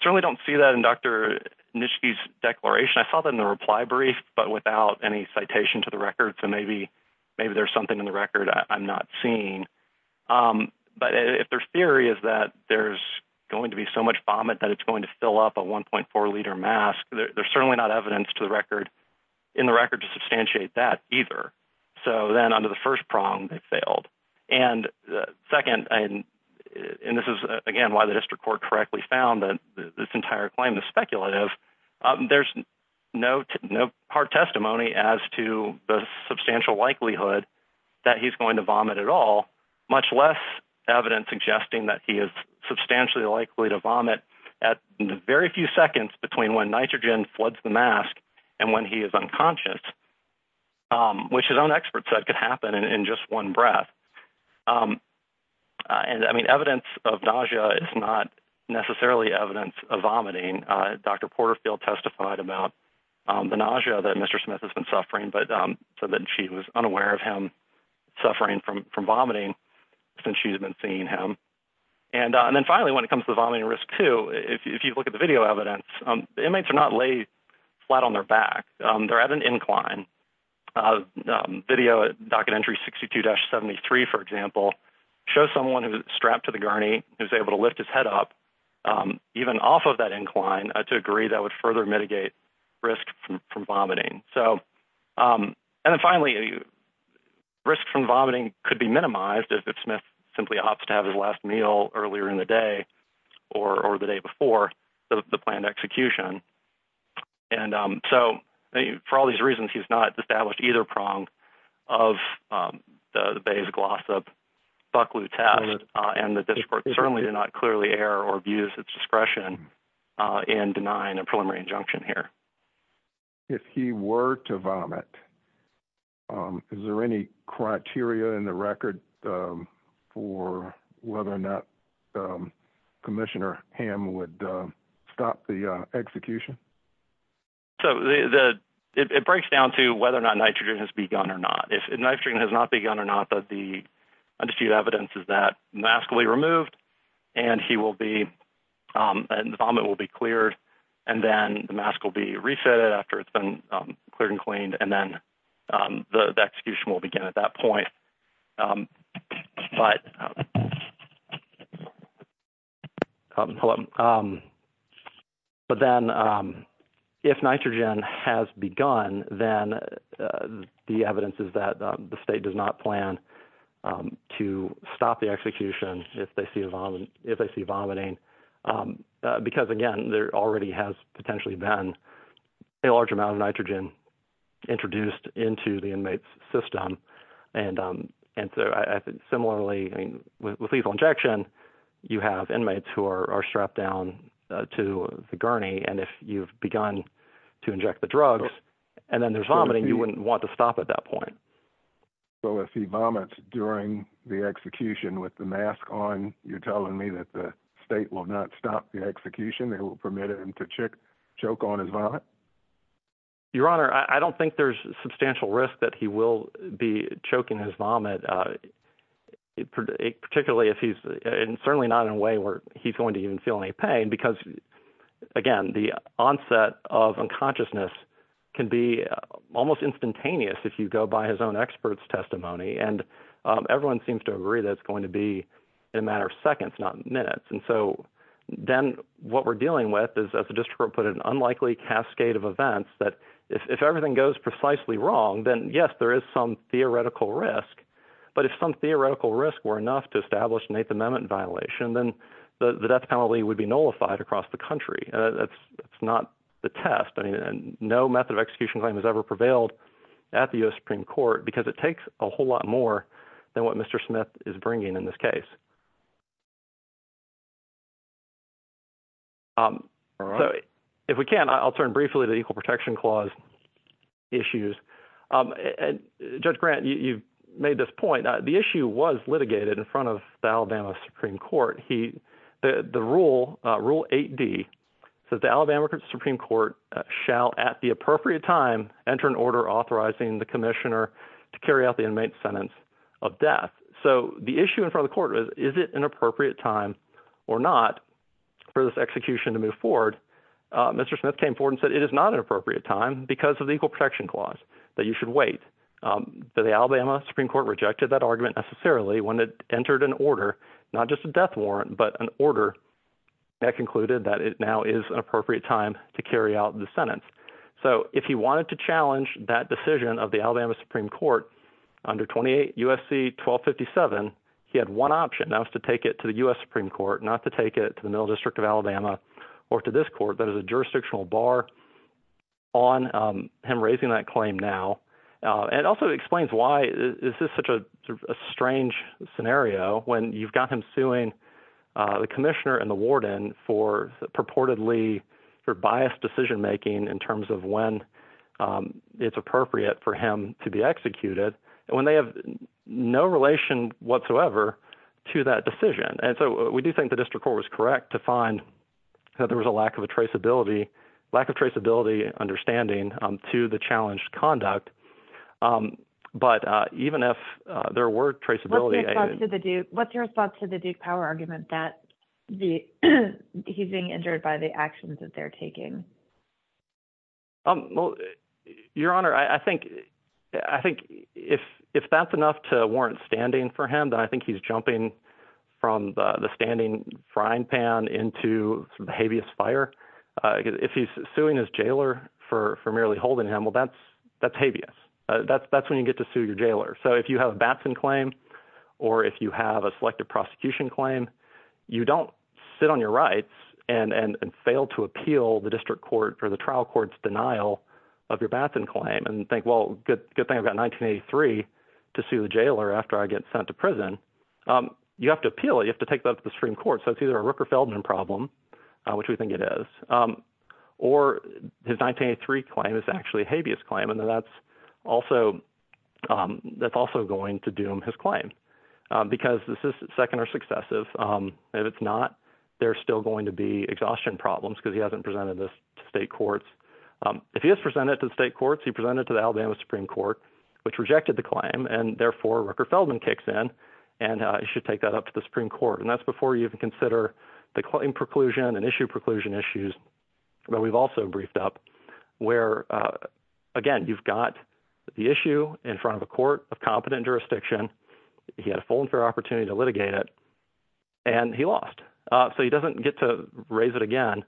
certainly don't see that in Dr. Nitschke's declaration. I saw that in a reply brief, but without any citation to the record. So maybe there's something in the record I'm not seeing. But if their theory is that there's going to be so much vomit that it's going to fill up a 1.4 liter mask, there's certainly not evidence in the record to substantiate that either. So then under the first prong, they failed. And second, and this is again why the district court correctly found that this entire claim is speculative, there's no hard testimony as to the substantial likelihood that he's going to vomit at all, much less evidence suggesting that he is substantially likely to vomit at very few seconds between when nitrogen floods the mask and when he is unconscious. Which, as an expert said, could happen in just one breath. Evidence of nausea is not necessarily evidence of vomiting. Dr. Porterfield testified about the nausea that Mr. Smith has been suffering, but said that she was unaware of him suffering from vomiting since she's been seeing him. And then finally, when it comes to vomiting risk, too, if you look at the video evidence, the inmates are not laid flat on their back. They're at an incline. Video document entry 62-73, for example, shows someone strapped to the gurney who's able to lift his head up, even off of that incline, to a degree that would further mitigate risk from vomiting. And then finally, risk from vomiting could be minimized if Smith simply opts to have his last meal earlier in the day or the day before the planned execution. And so, for all these reasons, he's not established either prong of the Bayes-Glossop-Bucklew test, and the district court certainly did not clearly err or abuse its discretion in denying a preliminary injunction here. If he were to vomit, is there any criteria in the record for whether or not Commissioner Hamm would stop the execution? So, it breaks down to whether or not nitrogen has begun or not. If nitrogen has not begun or not, the undisputed evidence is that mask will be removed, and the vomit will be cleared, and then the mask will be reset after it's been cleared and cleaned, and then the execution will begin at that point. All right. Hold on. But then, if nitrogen has begun, then the evidence is that the state does not plan to stop the execution if they see vomiting because, again, there already has potentially been a large amount of nitrogen introduced into the inmate's system. And so, similarly, with lethal injection, you have inmates who are strapped down to the gurney, and if you've begun to inject the drugs and then there's vomiting, you wouldn't want to stop at that point. So, if he vomits during the execution with the mask on, you're telling me that the state will not stop the execution? They will permit him to choke on his vomit? Your Honor, I don't think there's substantial risk that he will be choking his vomit, particularly if he's – and certainly not in a way where he's going to even feel any pain because, again, the onset of unconsciousness can be almost instantaneous if you go by his own expert's testimony, and everyone seems to agree that it's going to be a matter of seconds, not minutes. And so, then what we're dealing with is, as the district court put it, an unlikely cascade of events that, if everything goes precisely wrong, then, yes, there is some theoretical risk. But if some theoretical risks were enough to establish an Eighth Amendment violation, then the death penalty would be nullified across the country. That's not the test, and no method of execution claim has ever prevailed at the U.S. Supreme Court because it takes a whole lot more than what Mr. Smith is bringing in this case. So if we can, I'll turn briefly to the Equal Protection Clause issues. Judge Grant, you've made this point. The issue was litigated in front of the Alabama Supreme Court. The rule, Rule 8D, says the Alabama Supreme Court shall, at the appropriate time, enter an order authorizing the commissioner to carry out the inmate's sentence of death. So the issue in front of the court is, is it an appropriate time or not for this execution to move forward? Mr. Smith came forward and said it is not an appropriate time because of the Equal Protection Clause, that you should wait. But the Alabama Supreme Court rejected that argument necessarily when it entered an order, not just a death warrant, but an order that concluded that it now is an appropriate time to carry out the sentence. So if he wanted to challenge that decision of the Alabama Supreme Court under 28 U.S.C. 1257, he had one option. That was to take it to the U.S. Supreme Court, not to take it to the Middle District of Alabama or to this court that is a jurisdictional bar on him raising that claim now. It also explains why this is such a strange scenario when you've got him suing the commissioner and the warden for purportedly, for biased decision making in terms of when it's appropriate for him to be executed, when they have no relation whatsoever to that decision. And so we do think the district court was correct to find that there was a lack of traceability, lack of traceability and understanding to the challenged conduct. But even if there were traceability… What's your response to the Duke Power argument that he's being injured by the actions that they're taking? Well, Your Honor, I think if that's enough to warrant standing for him, then I think he's jumping from the standing frying pan into the habeas fire. If he's suing his jailer for merely holding him, well, that's habeas. That's when you get to sue your jailer. So if you have a Batson claim or if you have a selective prosecution claim, you don't sit on your rights and fail to appeal the district court or the trial court's denial of your Batson claim and think, well, good thing I've got 1983 to sue the jailer after I get sent to prison. You have to appeal it. You have to take that to the Supreme Court. So it's either a Rooker-Feldman problem, which we think it is, or his 1983 claim is actually a habeas claim, and that's also going to doom his claim because this is second or successive. And if it's not, there's still going to be exhaustion problems because he hasn't presented this to state courts. If he has presented it to the state courts, he presented it to the Alabama Supreme Court, which rejected the claim, and therefore, Rooker-Feldman kicks in and should take that up to the Supreme Court. And that's before you can consider the claim preclusion and issue preclusion issues that we've also briefed up where, again, you've got the issue in front of a court of competent jurisdiction. He had a full and fair opportunity to litigate it, and he lost. So he doesn't get to raise it again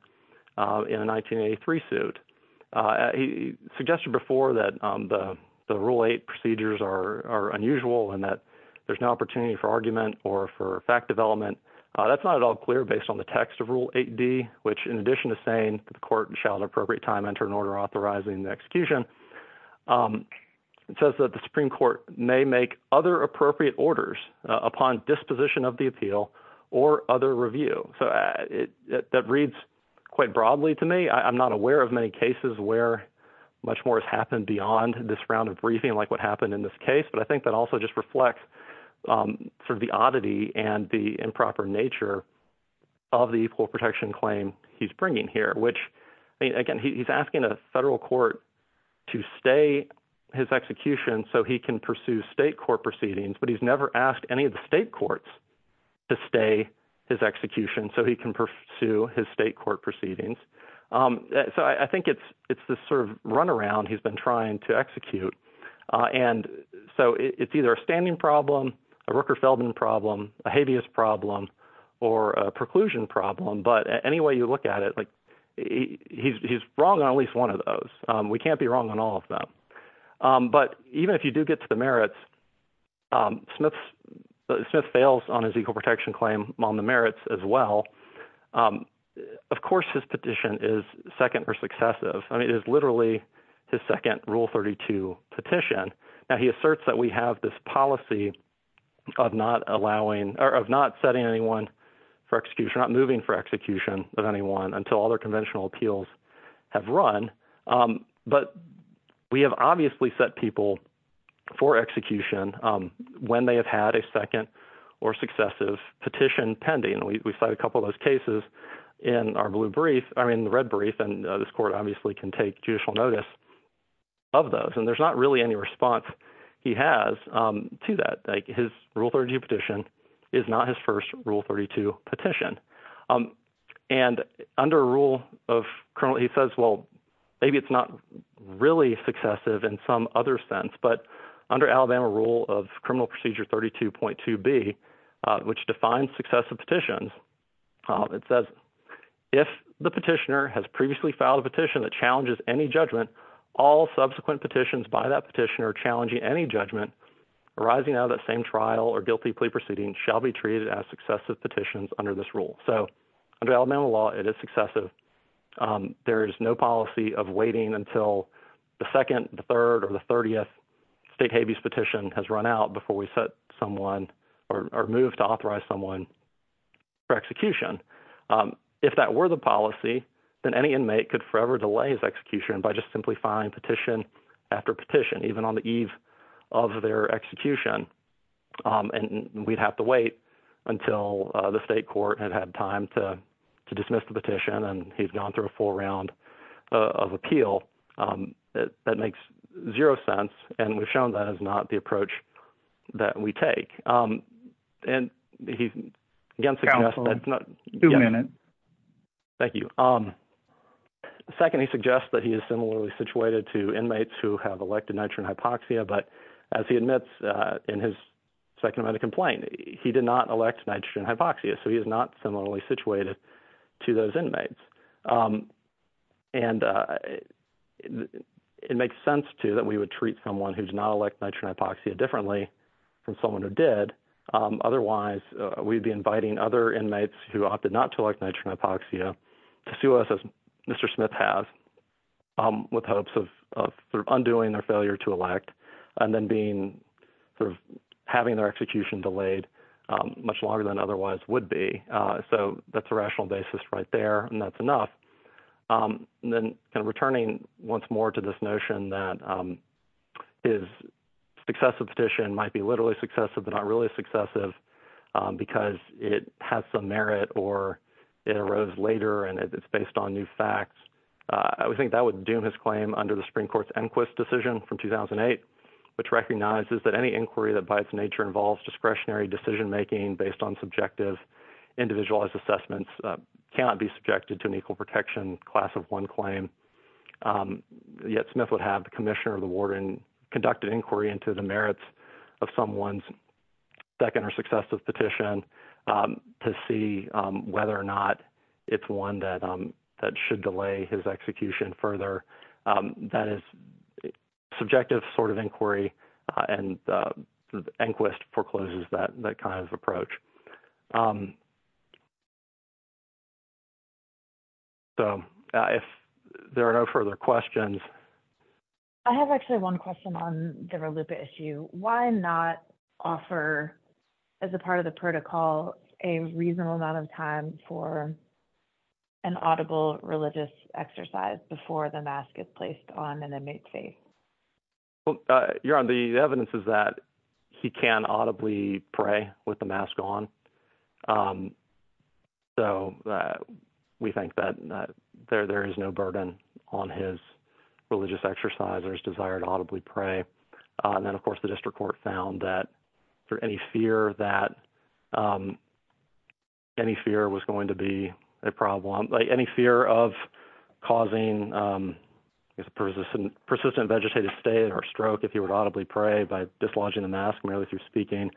in a 1983 suit. He suggested before that the Rule 8 procedures are unusual and that there's no opportunity for argument or for fact development. That's not at all clear based on the text of Rule 8d, which in addition to saying the court shall at the appropriate time enter an order authorizing the execution, it says that the Supreme Court may make other appropriate orders upon disposition of the appeal or other review. So that reads quite broadly to me. I'm not aware of many cases where much more has happened beyond this round of briefing like what happened in this case, but I think that also just reflects sort of the oddity and the improper nature of the equal protection claim he's bringing here, which, again, he's asking a federal court to stay his execution so he can pursue state court proceedings. But he's never asked any of the state courts to stay his execution so he can pursue his state court proceedings. So I think it's this sort of runaround he's been trying to execute. And so it's either a standing problem, a Rooker-Feldman problem, a habeas problem, or a preclusion problem. But any way you look at it, he's wrong on at least one of those. We can't be wrong on all of them. But even if you do get to the merits, Smith fails on his equal protection claim on the merits as well. Of course his petition is second or successive. It is literally his second Rule 32 petition. Now, he asserts that we have this policy of not allowing – or of not setting anyone for execution, not moving for execution of anyone until all their conventional appeals have run. But we have obviously set people for execution when they have had a second or successive petition pending. We cite a couple of those cases in our blue brief – I mean the red brief, and this court obviously can take judicial notice of those. And there's not really any response he has to that. His Rule 32 petition is not his first Rule 32 petition. And under a Rule of – he says, well, maybe it's not really successive in some other sense. But under Alabama Rule of Criminal Procedure 32.2b, which defines successive petitions, it says, If the petitioner has previously filed a petition that challenges any judgment, all subsequent petitions by that petitioner challenging any judgment arising out of that same trial or guilty plea proceeding shall be treated as successive petitions under this rule. So under Alabama law, it is successive. There is no policy of waiting until the second, the third, or the 30th state habeas petition has run out before we set someone or move to authorize someone for execution. If that were the policy, then any inmate could forever delay his execution by just simplifying petition after petition, even on the eve of their execution. And we'd have to wait until the state court had had time to dismiss the petition, and he's gone through a full round of appeal. That makes zero sense, and we've shown that is not the approach that we take. And he, again, suggests that's not – Two minutes. Thank you. Second, he suggests that he is similarly situated to inmates who have elected nitrogen hypoxia, but as he admits in his second amendment complaint, he did not elect nitrogen hypoxia, so he is not similarly situated to those inmates. And it makes sense, too, that we would treat someone who did not elect nitrogen hypoxia differently from someone who did. Otherwise, we'd be inviting other inmates who opted not to elect nitrogen hypoxia to sue us, as Mr. Smith has, with hopes of undoing their failure to elect and then being – having their execution delayed much longer than otherwise would be. So that's a rational basis right there, and that's enough. And then kind of returning once more to this notion that his successive petition might be literally successive but not really successive because it has some merit or it arose later and it's based on new facts. I would think that would doom his claim under the Supreme Court's inquest decision from 2008, which recognizes that any inquiry that by its nature involves discretionary decision-making based on subjective individualized assessments cannot be subjected to an equal protection class of one claim. Yet Smith would have the commissioner of the warden conduct an inquiry into the merits of someone's second or successive petition to see whether or not it's one that should delay his execution further. That is subjective sort of inquiry, and the inquest forecloses that kind of approach. So if there are no further questions… I have actually one question on the RLUIPA issue. Why not offer, as a part of the protocol, a reasonable amount of time for an audible religious exercise before the mask is placed on an inmate's face? Your Honor, the evidence is that he can audibly pray with the mask on. So we think that there is no burden on his religious exercise or his desire to audibly pray. And then, of course, the district court found that any fear that any fear was going to be a problem, any fear of causing a persistent vegetative state or stroke, if he were to audibly pray by dislodging the mask merely through speaking,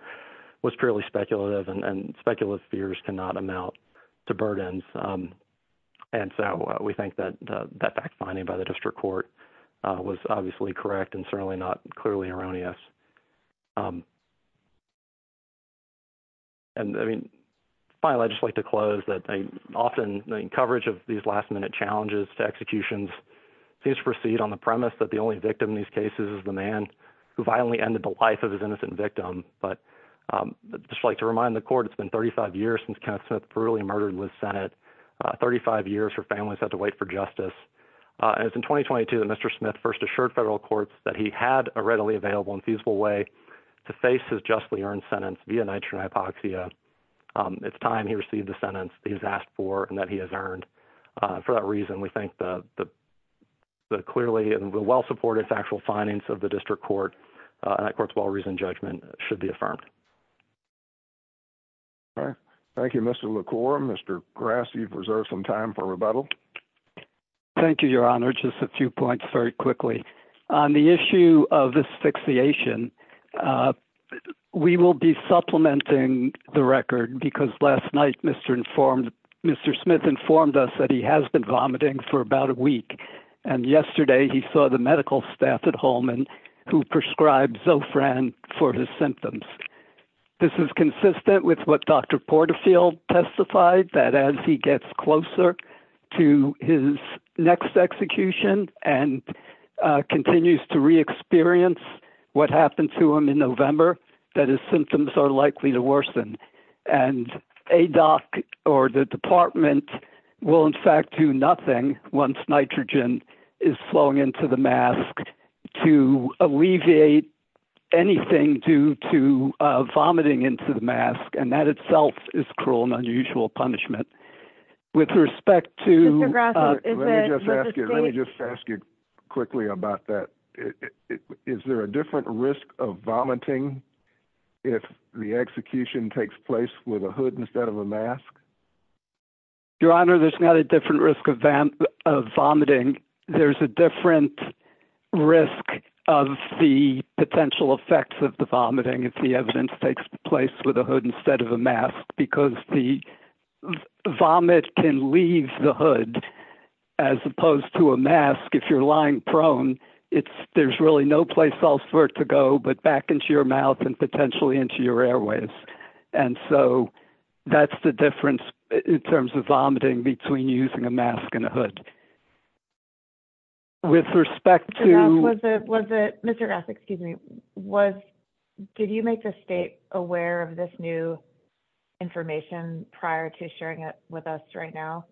was purely speculative, and speculative fears cannot amount to burdens. And so we think that that fact-finding by the district court was obviously correct and certainly not clearly erroneous. Finally, I'd just like to close that often the coverage of these last-minute challenges to executions seems to proceed on the premise that the only victim in these cases is the man who violently ended the life of his innocent victim. But I'd just like to remind the court it's been 35 years since Kenneth Smith brutally murdered in the Senate, 35 years where families have to wait for justice. And it's in 2022 that Mr. Smith first assured federal courts that he had a readily available and feasible way to face his justly earned sentence via nitrogen hypoxia. It's time he received the sentence that he's asked for and that he has earned. For that reason, we think that the clearly and well-supported factual findings of the district court and that court's well-reasoned judgment should be affirmed. Thank you, Mr. LaCour. Mr. Grass, you've reserved some time for rebuttal. Thank you, Your Honor. Just a few points very quickly. On the issue of asphyxiation, we will be supplementing the record because last night Mr. Smith informed us that he has been vomiting for about a week. And yesterday he saw the medical staff at Holman who prescribed Zofran for his symptoms. This is consistent with what Dr. Porterfield testified, that as he gets closer to his next execution and continues to re-experience what happened to him in November, that his symptoms are likely to worsen. And ADOC or the department will, in fact, do nothing once nitrogen is flowing into the mask to alleviate anything due to vomiting into the mask. And that itself is cruel and unusual punishment. Let me just ask you quickly about that. Is there a different risk of vomiting if the execution takes place with a hood instead of a mask? Your Honor, there's not a different risk of vomiting. There's a different risk of the potential effects of the vomiting if the evidence takes place with a hood instead of a mask, because the vomit can leave the hood as opposed to a mask. If you're lying prone, there's really no place else for it to go but back into your mouth and potentially into your airways. And so that's the difference in terms of vomiting between using a mask and a hood. With respect to... Mr. Ross, excuse me, did you make the state aware of this new information prior to sharing it with us right now?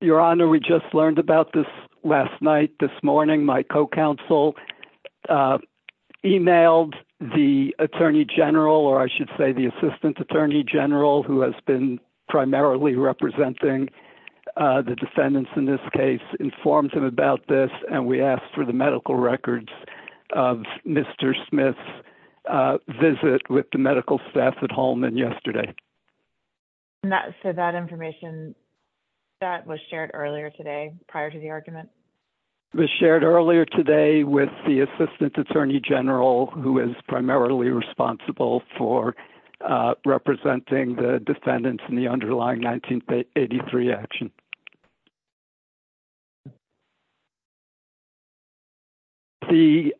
Your Honor, we just learned about this last night, this morning. My co-counsel emailed the Attorney General, or I should say the Assistant Attorney General, who has been primarily representing the defendants in this case, informed them about this. And we asked for the medical records of Mr. Smith's visit with the medical staff at Holman yesterday. So that information, that was shared earlier today prior to the argument? It was shared earlier today with the Assistant Attorney General, who is primarily responsible for representing the defendants in the underlying 1983 action.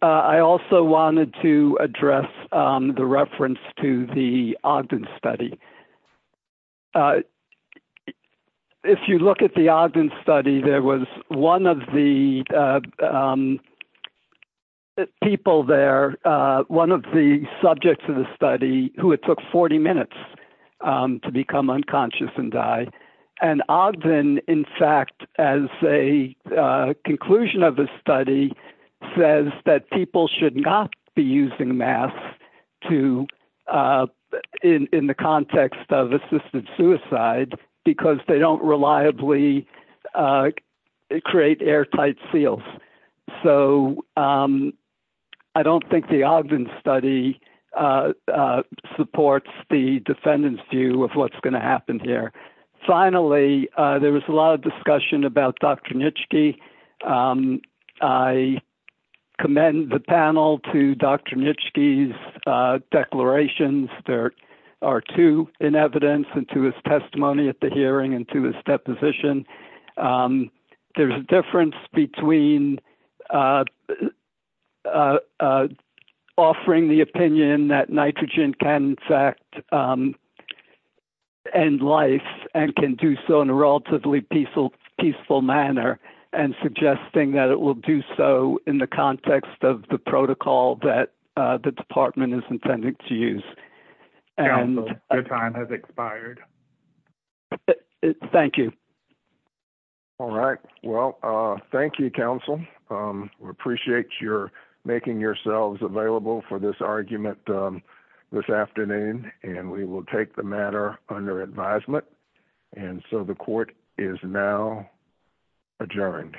I also wanted to address the reference to the Ogden study. If you look at the Ogden study, there was one of the people there, one of the subjects of the study, who had took 40 minutes to become unconscious and die. And Ogden, in fact, as a conclusion of the study, says that people should not be using masks in the context of assisted suicide because they don't reliably create airtight seals. So I don't think the Ogden study supports the defendant's view of what's going to happen here. Finally, there was a lot of discussion about Dr. Nitschke. I commend the panel to Dr. Nitschke's declarations. There are two in evidence and to his testimony at the hearing and to his deposition. There's a difference between offering the opinion that nitrogen can, in fact, end life and can do so in a relatively peaceful manner and suggesting that it will do so in the context of the protocol that the department is intended to use. Your time has expired. Thank you. All right. Well, thank you, counsel. We appreciate your making yourselves available for this argument this afternoon, and we will take the matter under advisement. And so the court is now adjourned.